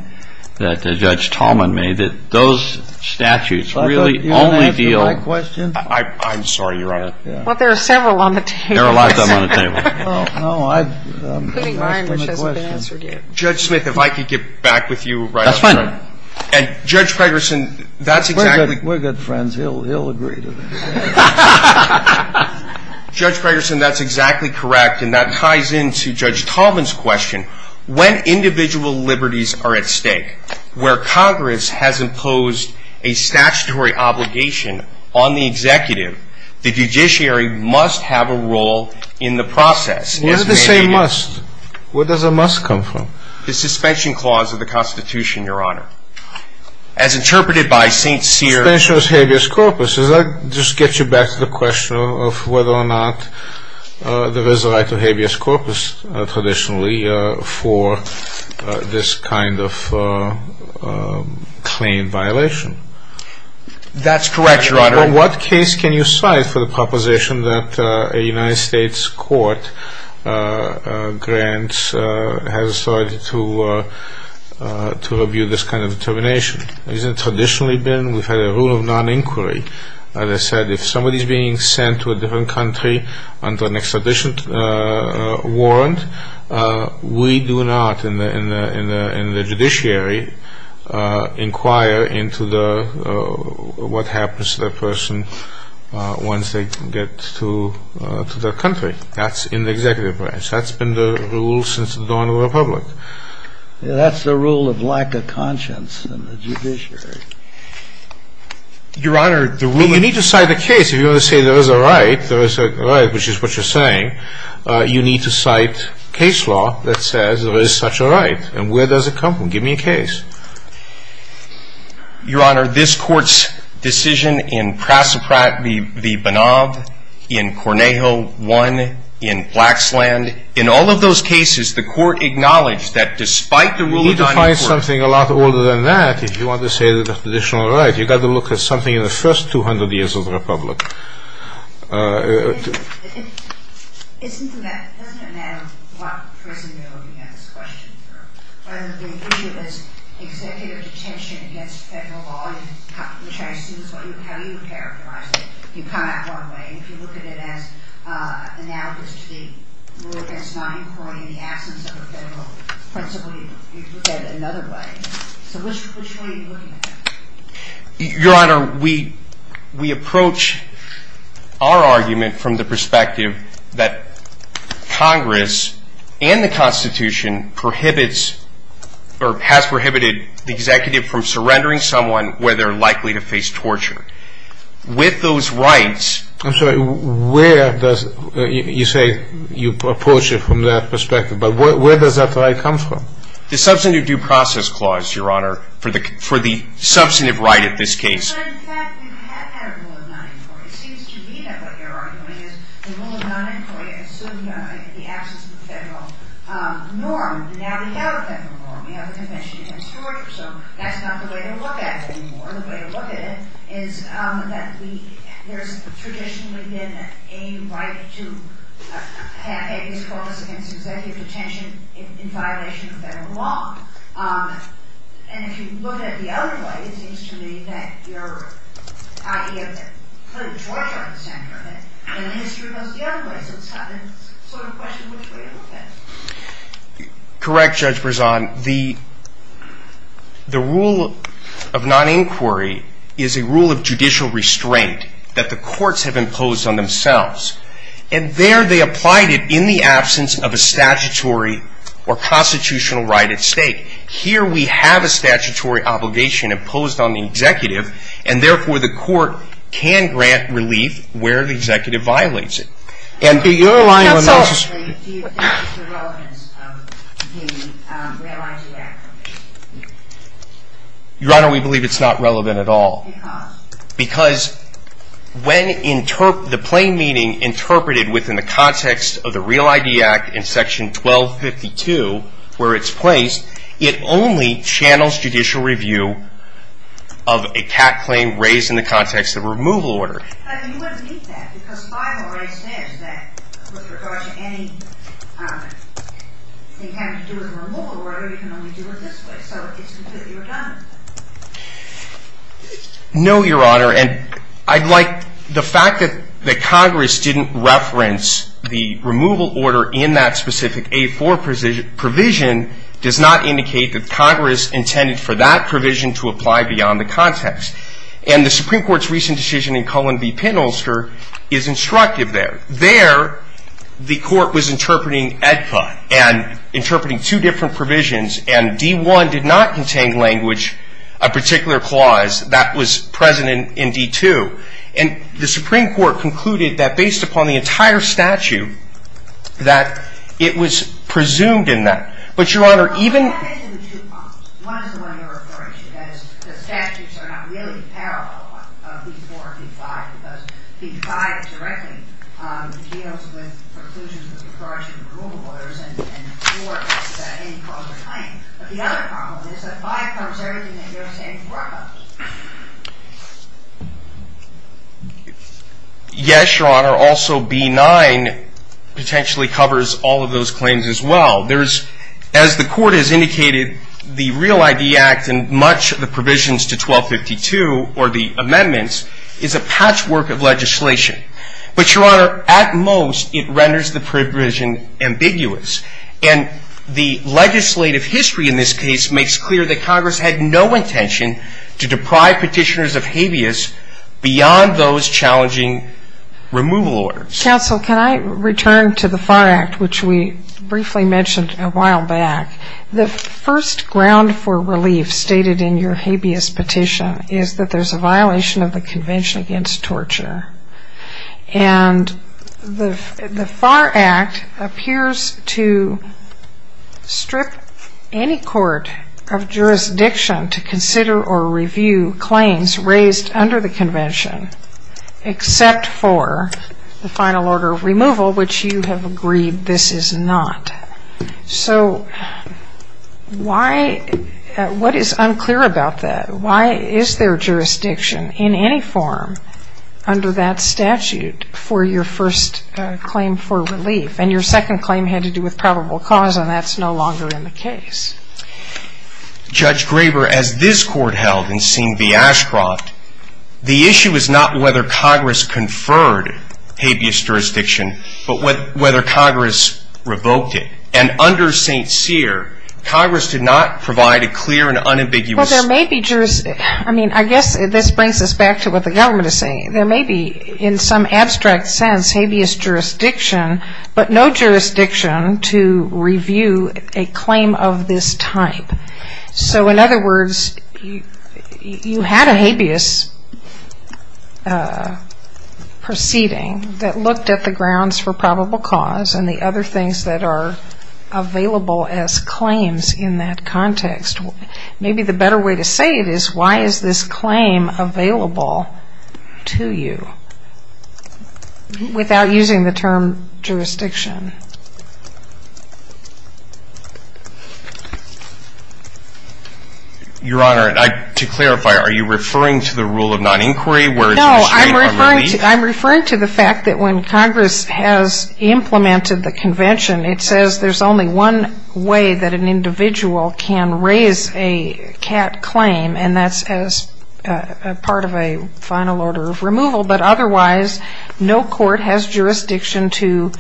that Judge Tallman made, that those statutes really only deal... I'm sorry, Your Honor. Well, there are several on the table. There are a lot of them on the table. Well, no, I'm putting my arm in the question. Judge Smith, if I could get back with you right away. That's fine. And Judge Fregerson, that's exactly... We're good friends. He'll agree to this. Judge Fregerson, that's exactly correct, and that ties into Judge Tallman's question. When individual liberties are at stake, where Congress has imposed a statutory obligation on the executive, the judiciary must have a role in the process. What does he say must? Where does a must come from? The suspension clause of the Constitution, Your Honor. As interpreted by St. Cyr... Suspension of habeas corpus. Does that just get you back to the question of whether or not there is a right to habeas corpus, traditionally, for this kind of claim violation? That's correct, Your Honor. In what case can you cite for the proposition that a United States court grants has authority to view this kind of determination? Hasn't it traditionally been we've had a rule of non-inquiry that said if somebody's being sent to a different country under an extradition warrant, we do not, in the judiciary, inquire into what happens to that person once they get to that country. That's in the executive branch. That's been the rule since the dawn of the Republic. That's the rule of lack of conscience in the judiciary. Your Honor... You need to cite a case. If you're going to say there is a right, there is a right, which is what you're saying, you need to cite case law that says there is such a right. And where does it come from? Give me a case. Your Honor, this Court's decision in Prasoprat v. B'Nav, in Cornejo I, in Flaxland, in all of those cases, the Court acknowledged that despite the rule of non-inquiry... You need to find something a lot older than that if you want to say there's an additional right. You've got to look at something in the first 200 years of the Republic. Isn't that something that a lot of prisoners are looking at this question for? I don't think it's an executive distinction against federal law, it's how you characterize it. You come at it one way, you look at it as an advocacy, rule of non-inquiry in the absence of a federal principle, you look at it another way. Your Honor, we approach our argument from the perspective that Congress and the Constitution has prohibited the executive from surrendering someone where they're likely to face torture. With those rights... I'm sorry, where does, you say you approach it from that perspective, but where does that right come from? The Substantive Due Process Clause, Your Honor, for the substantive right of this case. But in fact, you have had a rule of non-inquiry. As soon as you deem that what you're arguing is a rule of non-inquiry, I assume you're going to make the absence of a federal norm. Now we have a federal norm, we have a Convention Against Torture, so that's not the way to look at it anymore. The way to look at it is that there's traditionally been a right to have taken forms against executive detention in violation of federal law. And if you look at it the other way, it seems to me that you're out here putting torture at the center of it. And the history goes the other way. So it's sort of a question of which way to look at it. Correct, Judge Berzon. The rule of non-inquiry is a rule of judicial restraint that the courts have imposed on themselves. And there they applied it in the absence of a statutory or constitutional right at stake. Here we have a statutory obligation imposed on the executive, and therefore the court can grant relief where the executive violates it. And through your line of analysis... Your Honor, we believe it's not relevant at all. Because when the plain meaning interpreted within the context of the Real ID Act in Section 1252, where it's placed, it only channels judicial review of a tax claim raised in the context of a removal order. No, Your Honor. And I'd like... The fact that Congress didn't reference the removal order in that specific A4 provision does not indicate that Congress intended for that provision to apply beyond the context. And the Supreme Court's recent decision in Cullen v. Pindlester is instructive there. There, the court was interpreting AEDPA and interpreting two different provisions, and D1 did not contain language, a particular clause, that was present in D2. And the Supreme Court concluded that, based upon the entire statute, that it was presumed in that. But, Your Honor, even... Well, that ends in two problems. One is the one you're referring to. That is, the statutes are not really parallel, B4 and B5, because B5 directly deals with the provisions of the prerogative of the removal orders, and B4 helps with that. Any clause of the claim. But the other problem is that B5 covers everything that you're saying before us. Yes, Your Honor. Also, B9 potentially covers all of those claims as well. There's... As the court has indicated, the Real ID Act and much of the provisions to 1252, or the amendments, is a patchwork of legislation. But, Your Honor, at most, it renders the provision ambiguous. And the legislative history in this case makes clear that Congress had no intention to deprive petitioners of habeas beyond those challenging removal orders. Counsel, can I return to the FAR Act, which we briefly mentioned a while back? The first ground for relief stated in your habeas petition is that there's a violation of the Convention Against Torture. And the FAR Act appears to strip any court of jurisdiction to consider or review claims raised under the Convention, except for the final order of removal, which you have agreed this is not. So, why... What is unclear about that? Why is there jurisdiction in any form under that statute for your first claim for relief? And your second claim had to do with probable cause, and that's no longer in the case. Judge Graber, as this court held in St. Viascroft, the issue is not whether Congress conferred habeas jurisdiction, but whether Congress revoked it. And under St. Cyr, Congress did not provide a clear and unambiguous... Well, there may be jurisdiction... I mean, I guess this brings us back to what the government is saying. There may be, in some abstract sense, habeas jurisdiction, but no jurisdiction to review a claim of this type. So, in other words, you had a habeas proceeding that looked at the grounds for probable cause and the other things that are available as claims in that context. Maybe the better way to say it is, why is this claim available to you without using the term jurisdiction? Your Honor, to clarify, are you referring to the rule of non-inquiry? No, I'm referring to the fact that when Congress has implemented the convention, it says there's only one way that an individual can raise a cap claim, and that's as part of a final order of removal. But otherwise, no court has jurisdiction to,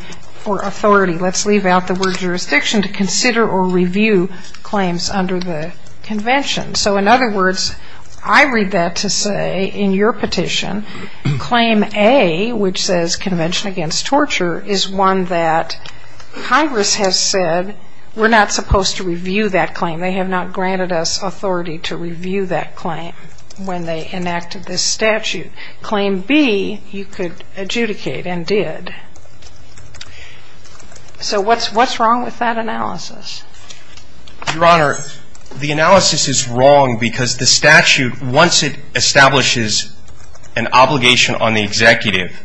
or authority, let's leave out the word jurisdiction, to consider or review claims under the convention. So, in other words, I read that to say, in your petition, Claim A, which says convention against torture, is one that Congress has said we're not supposed to review that claim. They have not granted us authority to review that claim when they enacted this statute. Claim B, you could adjudicate and did. So, what's wrong with that analysis? Your Honor, the analysis is wrong because the statute, once it establishes an obligation on the executive,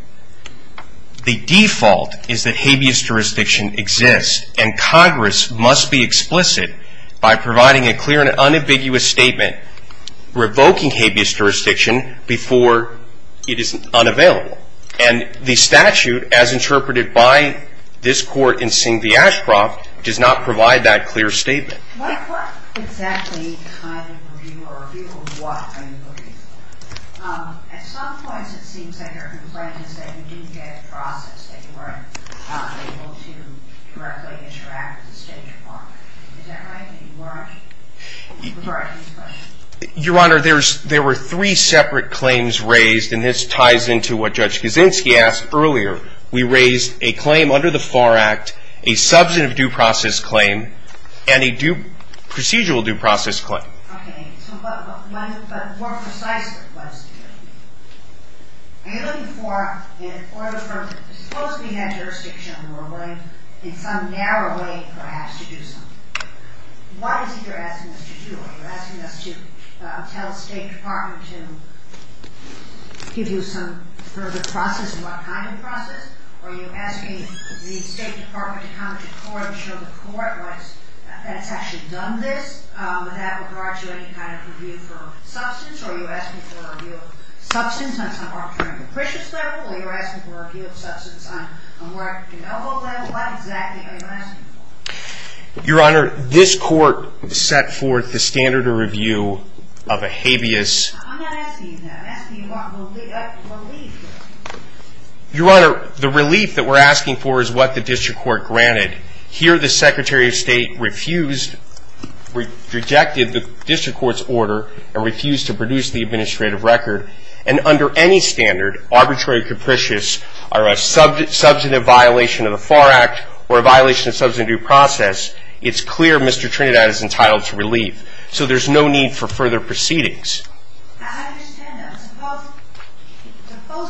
the default is that habeas jurisdiction exists, and Congress must be explicit by providing a clear and unambiguous statement revoking habeas jurisdiction before it is unavailable. And the statute, as interpreted by this Court in Singh v. Ashcroft, does not provide that clear statement. My question is definitely behind the review or review of what I'm looking for. At some point, it seems that your concern is that the due process that you are able to directly interact with the State Department. Is that right? Refer to this question. Your Honor, there were three separate claims raised, and this ties into what Judge Kuczynski asked earlier. We raised a claim under the FAR Act, a substantive due process claim, and a procedural due process claim. Okay. So, one more precise question. Are you looking for a further purpose? Supposedly, that jurisdiction would become narrowing perhaps to do something. Why do you think you're asking us to do it? Are you asking us to tell the State Department to do some further process? What kind of process? Your Honor, this Court set forth the standard of review of a habeas. I'm not asking you that. I'm asking you what relief you're looking for. is going to have to do something about it. The relief that we're asking for is what the district court granted. Here, the Secretary of State refused, rejected the district court's order and refused to produce the administrative record. And under any standard, arbitrary capricious are a substantive violation of the FAR Act or a violation of substantive due process, it's clear Mr. Trinidad is entitled to relief. So, there's no need for further proceedings. Now, I understand that. Suppose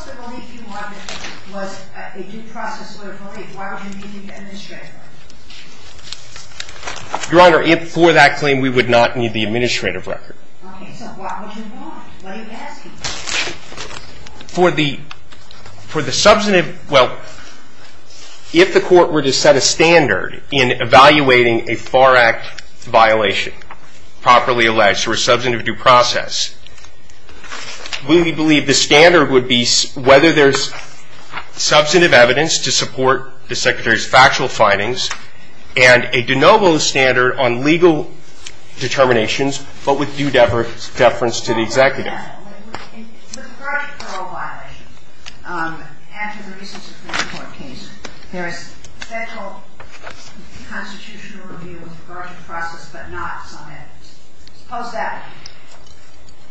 that what you want was a due process where, okay, why would we need the administrative record? Okay, so why would you want it? What do you have to do? We believe the standard would be whether there's substantive evidence to support the Secretary's factual findings and a de novo standard on legal determinations but with due deference to the executive.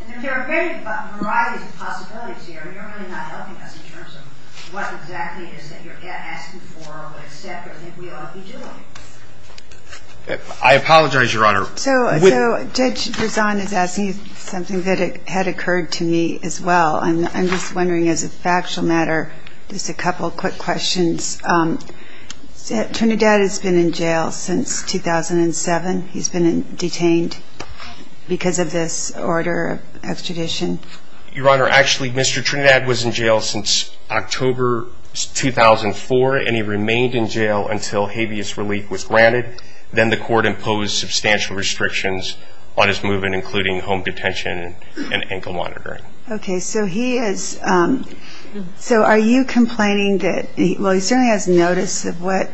And if you're thinking about a variety of possibilities here, you're really not helping us in terms of what exactly it is that you're asking for or what exactly we ought to be doing. I apologize, Your Honor. So, Judge Rizan is asking something that had occurred to me as well. And I'm just wondering as a factual matter, just a couple of quick questions. Trinidad has been in jail since 2007. He's been detained because of this order of extradition. Your Honor, actually, Mr. Trinidad was in jail since October 2004, and he remained in jail until habeas relief was granted. Then the court imposed substantial restrictions on his movement, including home detention and ankle monitoring. Okay, so he is – so are you complaining that – well, he certainly has notice of what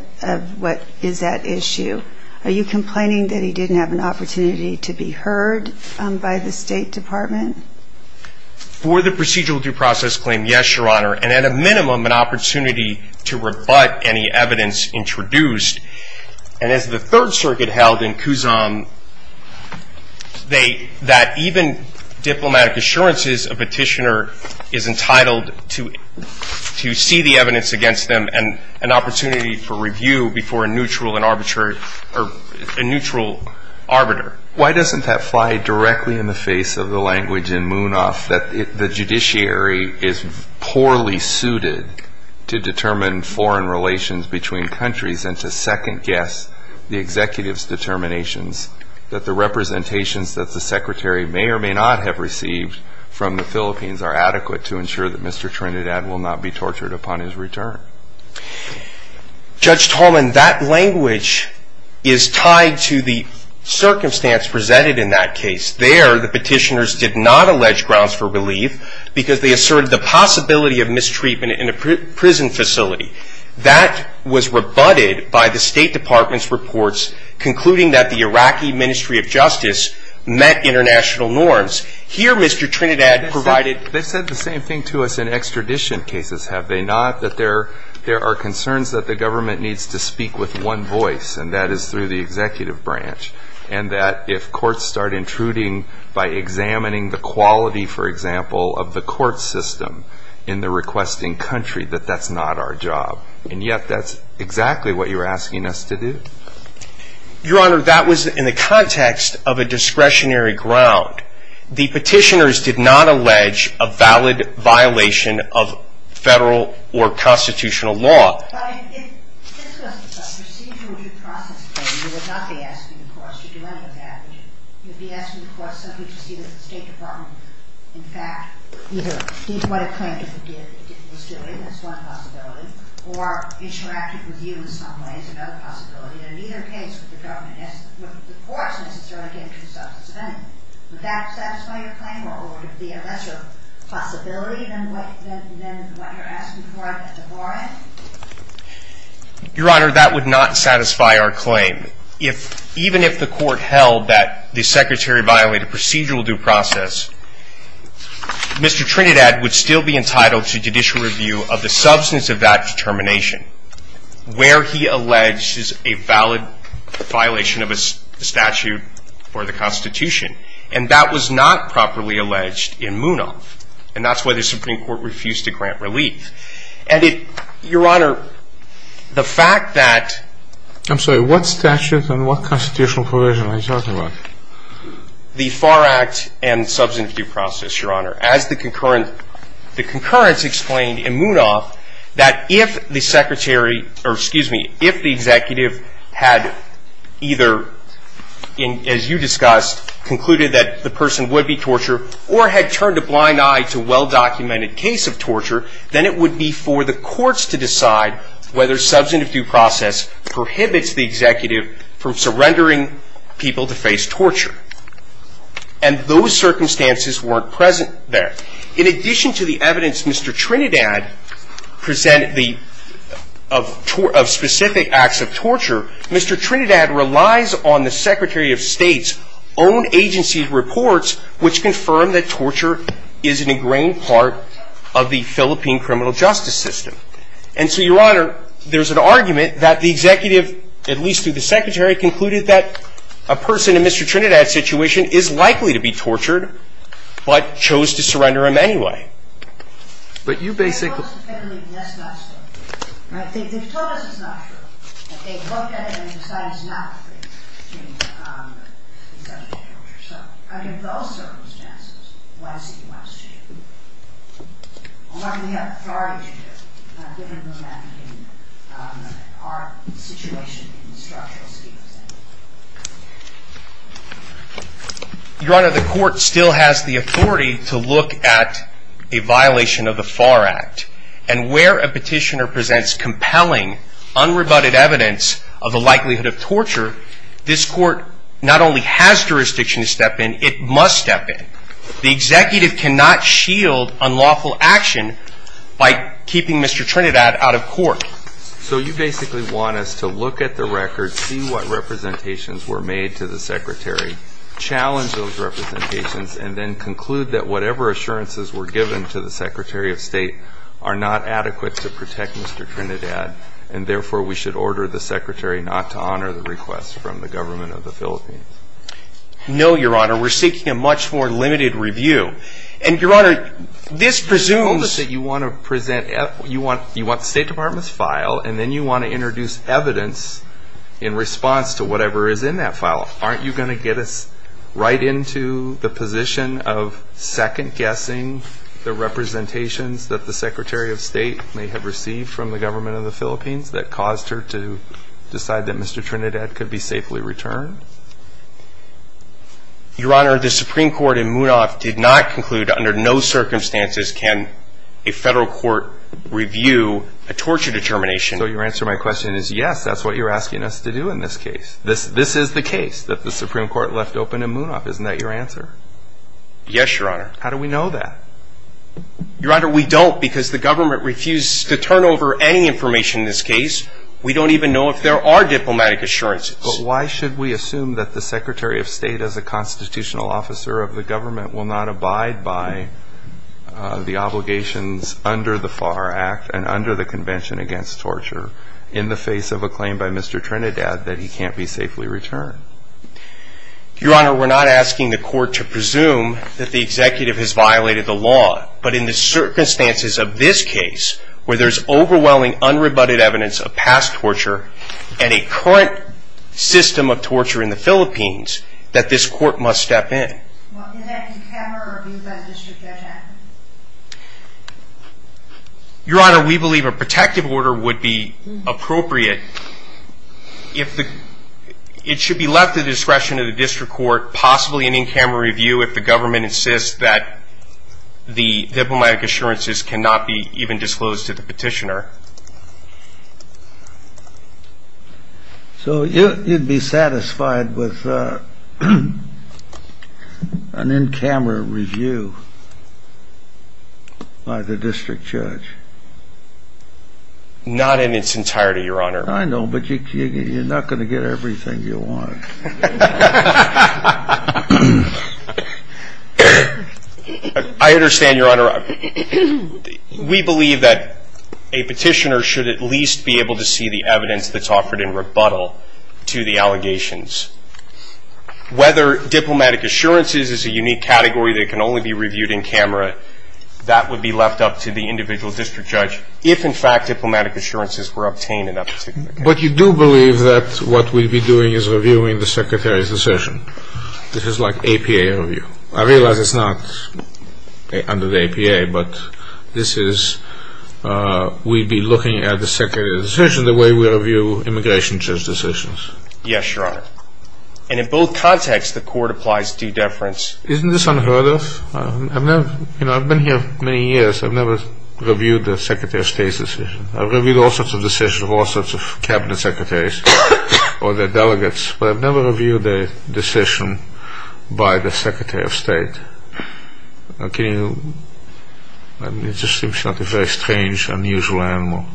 is that issue. Are you complaining that he didn't have an opportunity to be heard by the State Department? For the procedural due process claim, yes, Your Honor, and at a minimum an opportunity to rebut any evidence introduced. And as the Third Circuit held in Kuzon, that even diplomatic assurances a petitioner is entitled to see the evidence against them and an opportunity for review before a neutral arbiter. Why doesn't that fly directly in the face of the language in Munoz, that the judiciary is poorly suited to determine foreign relations between countries and to second-guess the executive's determinations, that the representations that the Secretary may or may not have received from the Philippines are adequate to ensure that Mr. Trinidad will not be tortured upon his return? Judge Tolman, that language is tied to the circumstance presented in that case. There, the petitioners did not allege grounds for relief because they asserted the possibility of mistreatment in a prison facility. That was rebutted by the State Department's reports concluding that the Iraqi Ministry of Justice met international norms. They said the same thing to us in extradition cases, have they not? That there are concerns that the government needs to speak with one voice, and that is through the executive branch. And that if courts start intruding by examining the quality, for example, of the court system in the requesting country, that that's not our job. And yet, that's exactly what you're asking us to do. Your Honor, that was in the context of a discretionary ground. The petitioners did not allege a valid violation of federal or constitutional law. But if this was a procedural reprocessing, you would not be asking for us to deny them that. You'd be asking for us to see if the State Department, in fact, either sees what a plaintiff is doing, that's one possibility, or is interacting with you in some way, that's another possibility. And in either case, the court system is going to get itself suspended. Would that satisfy your claim, or would it be a lesser possibility Your Honor, that would not satisfy our claim. Even if the court held that the Secretary violated procedural due process, Mr. Trinidad would still be entitled to judicial review of the substance of that determination, where he alleges a valid violation of a statute for the Constitution. And that was not properly alleged in MUNA. And that's why the Supreme Court refused to grant relief. And it, Your Honor, the fact that I'm sorry, what statute and what constitutional provision are you talking about? The FAR Act and substance due process, Your Honor. As the concurrence explained in MUNA, that if the Secretary, or excuse me, if the Executive had either, as you discussed, concluded that the person would be tortured, or had turned a blind eye to a well-documented case of torture, then it would be for the courts to decide whether substance due process prohibits the Executive from surrendering people to face torture. And those circumstances weren't present there. In addition to the evidence Mr. Trinidad presented of specific acts of torture, Mr. Trinidad relies on the Secretary of State's own agency's reports, which confirm that torture is an ingrained part of the Philippine criminal justice system. And so, Your Honor, there's an argument that the Executive, at least through the Secretary, concluded that a person in Mr. Trinidad's situation is likely to be tortured, but chose to surrender him anyway. But you basically... I believe that's not so. They told us it's not true. They looked at it and decided it's not true. Under those circumstances, why did you want us to do this? Why do we have authority to do this? Given that our situation is structurally different. Your Honor, the Court still has the authority to look at a violation of the FAR Act. And where a petitioner presents compelling, unrebutted evidence of the likelihood of torture, this Court not only has jurisdiction to step in, it must step in. The Executive cannot shield unlawful action by keeping Mr. Trinidad out of court. So you basically want us to look at the record, see what representations were made to the Secretary, challenge those representations, and then conclude that whatever assurances were given to the Secretary of State are not adequate to protect Mr. Trinidad, and therefore we should order the Secretary not to honor the request from the government of the Philippines. No, Your Honor. We're seeking a much more limited review. And, Your Honor, this presumes... And then you want to introduce evidence in response to whatever is in that file. Aren't you going to get us right into the position of second-guessing the representations that the Secretary of State may have received from the government of the Philippines that caused her to decide that Mr. Trinidad could be safely returned? Your Honor, the Supreme Court in Munoz did not conclude under no circumstances can a federal court review a torture determination. So your answer to my question is yes, that's what you're asking us to do in this case. This is the case that the Supreme Court left open in Munoz. Isn't that your answer? Yes, Your Honor. How do we know that? Your Honor, we don't because the government refused to turn over any information in this case. We don't even know if there are diplomatic assurances. But why should we assume that the Secretary of State, as a constitutional officer of the government, will not abide by the obligations under the FAR Act and under the Convention Against Torture in the face of a claim by Mr. Trinidad that he can't be safely returned? Your Honor, we're not asking the court to presume that the executive has violated the law. But in the circumstances of this case, where there's overwhelming unrebutted evidence of past torture and a current system of torture in the Philippines, that this court must step in. Well, can that be in camera or can that be a district judge act? Your Honor, we believe a protective order would be appropriate. It should be left to the discretion of the district court, possibly an in-camera review, if the government insists that the diplomatic assurances cannot be even disclosed to the petitioner. So you'd be satisfied with an in-camera review by the district judge? Not in its entirety, Your Honor. I know, but you're not going to get everything you want. I understand, Your Honor. We believe that a petitioner should at least be able to see the evidence that's offered in rebuttal to the allegations. Whether diplomatic assurances is a unique category that can only be reviewed in camera, that would be left up to the individual district judge if, in fact, diplomatic assurances were obtained in that particular case. But you do believe that what we'd be doing is reviewing the Secretary's decision? This is like APA review. I realize it's not under the APA, but this is, we'd be looking at the Secretary's decision the way we review immigration judge decisions. Yes, Your Honor. And in both contexts, the court applies due deference. Isn't this unheard of? I've been here many years. I've never reviewed the Secretary of State's decision. I've reviewed all sorts of decisions of all sorts of cabinet secretaries or their delegates, but I've never reviewed a decision by the Secretary of State. It just seems like a very strange, unusual animal.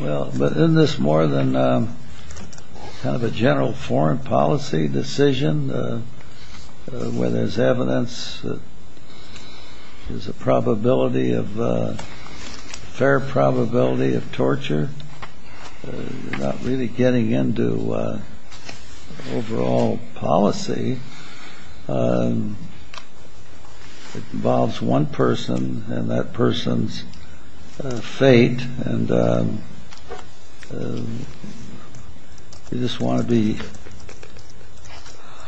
Well, isn't this more than kind of a general foreign policy decision, where there's evidence that there's a probability of, a fair probability of torture? You're not really getting into overall policy. It involves one person and that person's fate, and you just want to be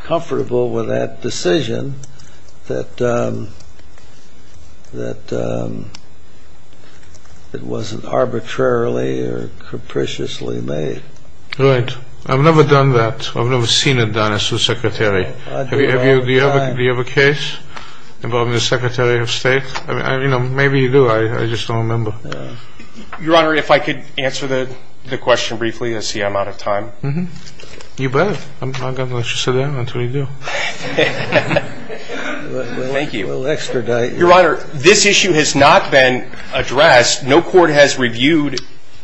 comfortable with that decision, that it wasn't arbitrarily or capriciously made. Right. I've never done that. I've never seen it done as to the Secretary. Do you have a case involving the Secretary of State? Maybe you do. I just don't remember. Your Honor, if I could answer the question briefly. I see I'm out of time. You bet. I'll let you sit down until you do. Thank you. Your Honor, this issue has not been addressed. No court has reviewed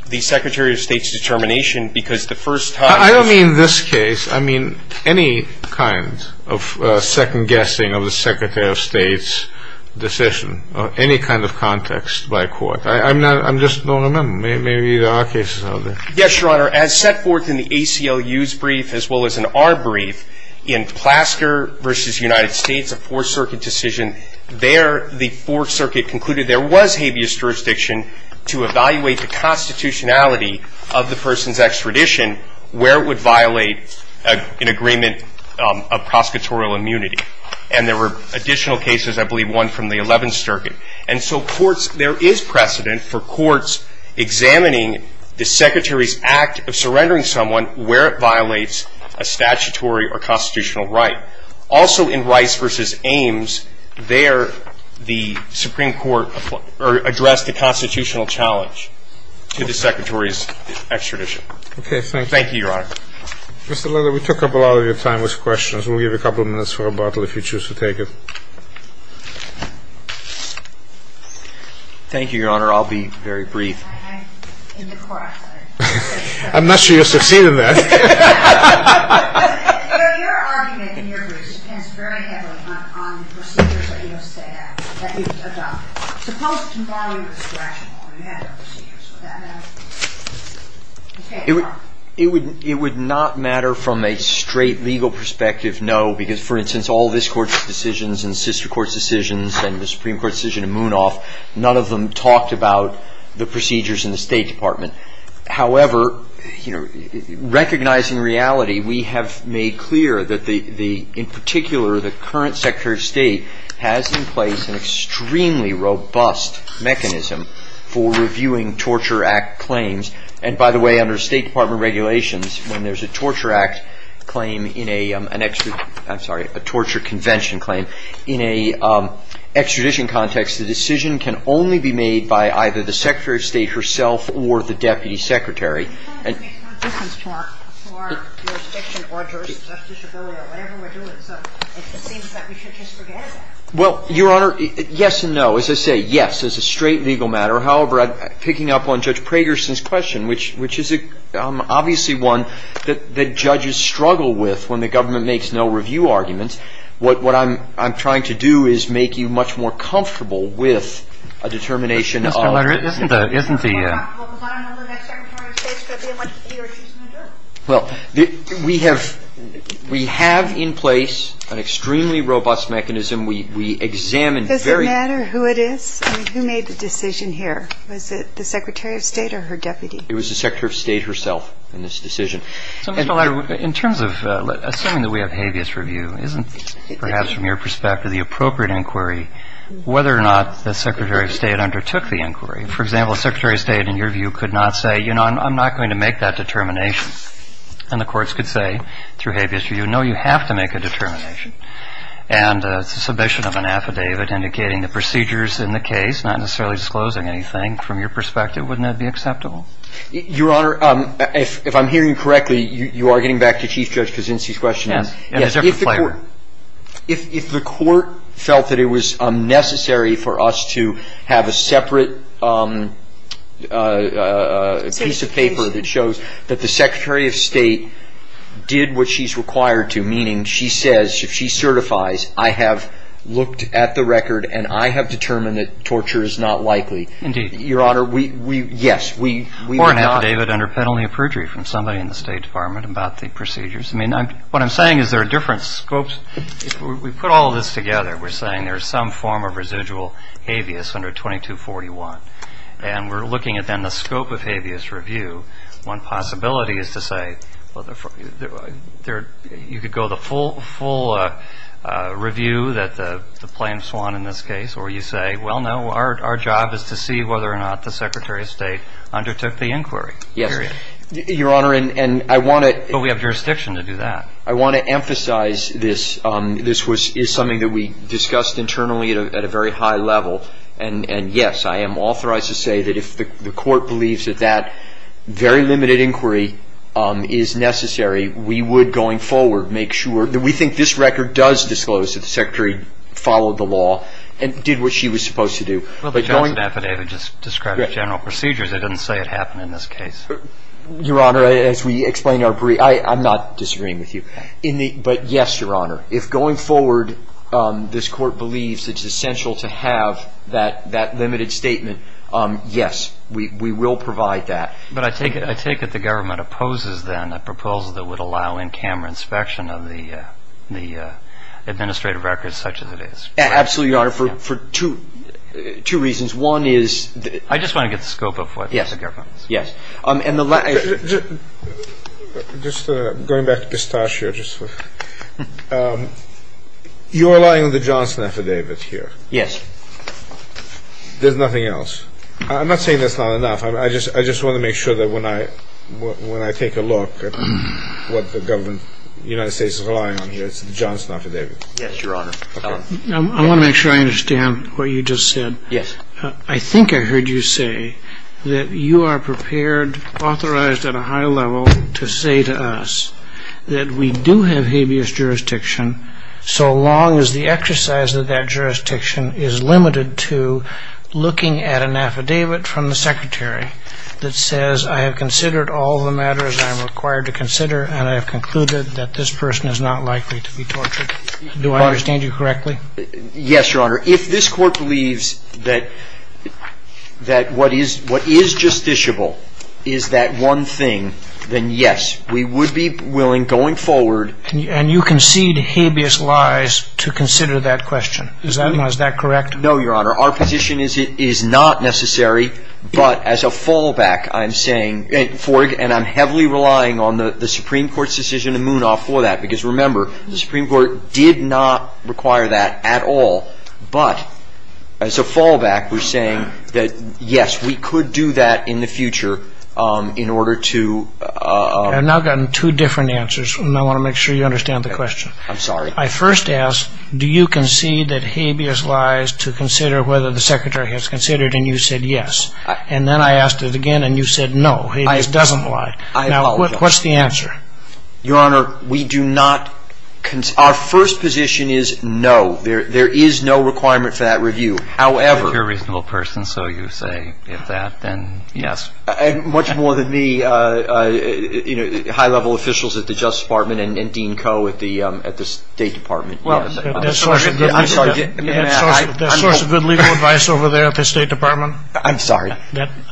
the Secretary of State's determination, because the first time... I don't mean this case. I mean any kind of second-guessing of the Secretary of State's decision, any kind of context by court. I just don't remember. Maybe there are cases out there. Yes, Your Honor. As set forth in the ACLU's brief, as well as in our brief, in Plaster v. United States, a Fourth Circuit decision, the Fourth Circuit concluded there was habeas jurisdiction to evaluate the constitutionality of the person's extradition where it would violate an agreement of prosecutorial immunity. And there were additional cases, I believe one from the Eleventh Circuit. And so there is precedent for courts examining the Secretary's act of surrendering someone where it violates a statutory or constitutional right. Also in Rice v. Ames, there the Supreme Court addressed the constitutional challenge to the Secretary's extradition. Okay, thank you. Thank you, Your Honor. Mr. Luther, we took up a lot of your time with questions. We'll give you a couple of minutes for a bottle if you choose to take it. Thank you, Your Honor. I'll be very brief. I'm not sure you're succeeding there. Your argument in your brief is very heavy on the Procedures of the U.S. State Act that we took up. How much do you value the correctional matter of Procedures of the State Act? It would not matter from a straight legal perspective, no. Because, for instance, all of this Court's decisions and the Sister Court's decisions and the Supreme Court's decision in Moonaw, none of them talked about the procedures in the State Department. However, recognizing reality, we have made clear that, in particular, the current Secretary of State has in place an extremely robust mechanism for reviewing Torture Act claims. And, by the way, under State Department regulations, when there's a Torture Convention claim, in an extradition context, the decision can only be made by either the Secretary of State herself or the Deputy Secretary. Well, Your Honor, yes and no. As I say, yes, it's a straight legal matter. However, picking up on Judge Pragerson's question, which is obviously one that judges struggle with when the government makes no review arguments, what I'm trying to do is make you much more comfortable with a determination of Well, but I know that Secretary of State is going to be in like three or four years. Well, we have in place an extremely robust mechanism. We examined very... Does it matter who it is and who made the decision here? Was it the Secretary of State or her deputy? It was the Secretary of State herself in this decision. In terms of, assuming that we have habeas review, isn't, perhaps from your perspective, the appropriate inquiry whether or not the Secretary of State undertook the inquiry? For example, Secretary of State, in your view, could not say, you know, I'm not going to make that determination. And the courts could say, through habeas review, no, you have to make a determination. And the submission of an affidavit indicating the procedures in the case, not necessarily disclosing anything from your perspective, wouldn't that be acceptable? Your Honor, if I'm hearing correctly, you are getting back to Chief Judge Kuczynski's question. Yes. If the court felt that it was necessary for us to have a separate piece of paper that shows that the Secretary of State did what she's required to, meaning she says, if she certifies, I have looked at the record and I have determined that torture is not likely. Indeed. Your Honor, yes, we would not... Or an affidavit under penalty of perjury from somebody in the State Department about the procedures. I mean, what I'm saying is there are different scopes. We put all of this together. We're saying there's some form of residual habeas under 2241. And we're looking at then the scope of habeas review. One possibility is to say, well, you could go the full review that the plain swan in this case, or you say, well, no, our job is to see whether or not the Secretary of State undertook the inquiry. Yes. Period. Your Honor, and I want to... I want to emphasize this. This is something that we discussed internally at a very high level. And, yes, I am authorized to say that if the court believes that that very limited inquiry is necessary, we would, going forward, make sure that we think this record does disclose that the Secretary followed the law and did what she was supposed to do. But going... Well, the affidavit just describes general procedures. It doesn't say it happened in this case. Your Honor, as we explain our brief, I'm not disagreeing with you. But, yes, Your Honor, if going forward this court believes it's essential to have that limited statement, yes, we will provide that. But I take it the government opposes, then, a proposal that would allow in-camera inspection of the administrative records such as it is. Absolutely, Your Honor, for two reasons. One is... Yes. And the last... Just going back to pistachio, just... You're relying on the Johnson affidavit here. Yes. There's nothing else. I'm not saying that's not enough. I just want to make sure that when I take a look at what the government, the United States, is relying on here, it's the Johnson affidavit. Yes, Your Honor. I want to make sure I understand what you just said. Yes. I think I heard you say that you are prepared, authorized at a high level, to say to us that we do have habeas jurisdiction, so long as the exercise of that jurisdiction is limited to looking at an affidavit from the secretary that says, I have considered all the matters I am required to consider, and I have concluded that this person is not likely to be tortured. Do I understand you correctly? Yes, Your Honor. If this court believes that what is justiciable is that one thing, then yes, we would be willing, going forward... And you concede habeas lies to consider that question. Is that correct? No, Your Honor. Our position is it is not necessary, but as a fallback, I'm saying, and I'm heavily relying on the Supreme Court's decision to moon off for that, because remember, the Supreme Court did not require that at all. But as a fallback, we're saying that yes, we could do that in the future in order to... I've now gotten two different answers, and I want to make sure you understand the question. I'm sorry. I first asked, do you concede that habeas lies to consider whether the secretary has considered, and you said yes. And then I asked it again, and you said no, habeas doesn't lie. I apologize. Now, what's the answer? Your Honor, we do not... Our first position is no. There is no requirement for that review. However... You're a reasonable person, so you say if that, then yes. Much more than me. High-level officials at the Justice Department and Dean Coe at the State Department. The source of good legal advice over there at the State Department? I'm sorry.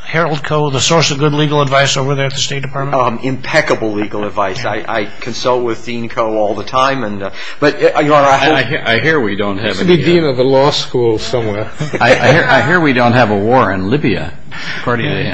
Harold Coe, the source of good legal advice over there at the State Department? Impeccable legal advice. I consult with Dean Coe all the time. I hear we don't have a... He's the dean of the law school somewhere. I hear we don't have a war in Libya. Pardon me.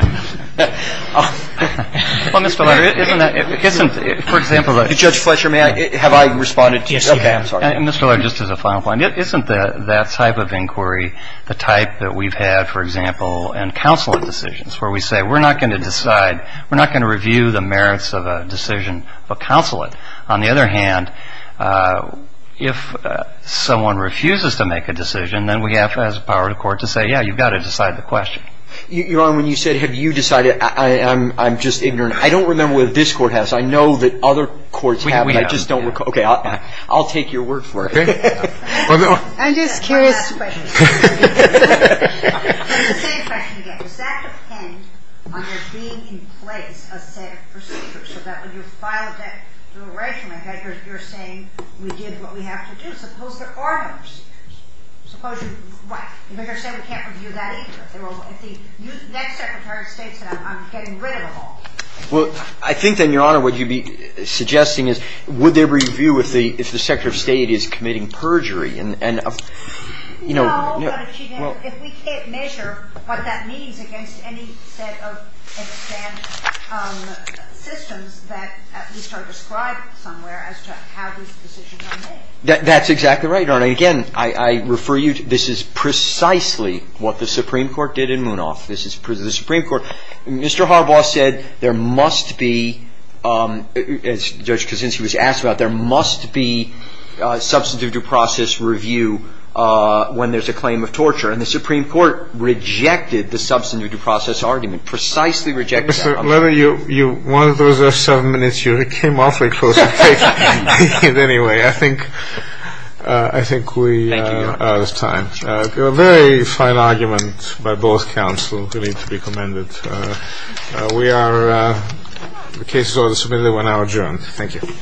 Mr. Lawyer, isn't that... For example... Judge Fletcher, may I? Have I responded? Yes, you have. I'm sorry. Mr. Lawyer, just as a final point, isn't that type of inquiry the type that we've had, for example, where we say we're not going to decide... We're not going to review the merits of a decision of a consulate. On the other hand, if someone refuses to make a decision, then we have to ask the power of the court to say, yeah, you've got to decide the question. Your Honor, when you said, have you decided, I'm just ignorant. I don't remember what this court has. I know that other courts have that. Okay, I'll take your word for it. That's my last question. Let me say the question again. Does that depend on there being in place a set of procedures so that when you file that, you're saying we did what we have to do? Suppose there are no procedures. Suppose you're saying we can't review that either. Well, if the next Secretary of State said I'm getting rid of them all. Well, I think, Your Honor, what you'd be suggesting is would there be a review if the Secretary of State is committing perjury? That's exactly right, Your Honor. Again, I refer you to this is precisely what the Supreme Court did in Munaf. This is the Supreme Court. Mr. Harbaugh said there must be, as Judge Kuczynski was asked about, there must be substantive due process review when there's a claim of torture. And the Supreme Court rejected the substantive due process argument, precisely rejected that argument. One of those last seven minutes, you came off it. Anyway, I think we are out of time. It was a very fine argument by both counsels. It needs to be commended. The case is submitted. We're now adjourned. Thank you.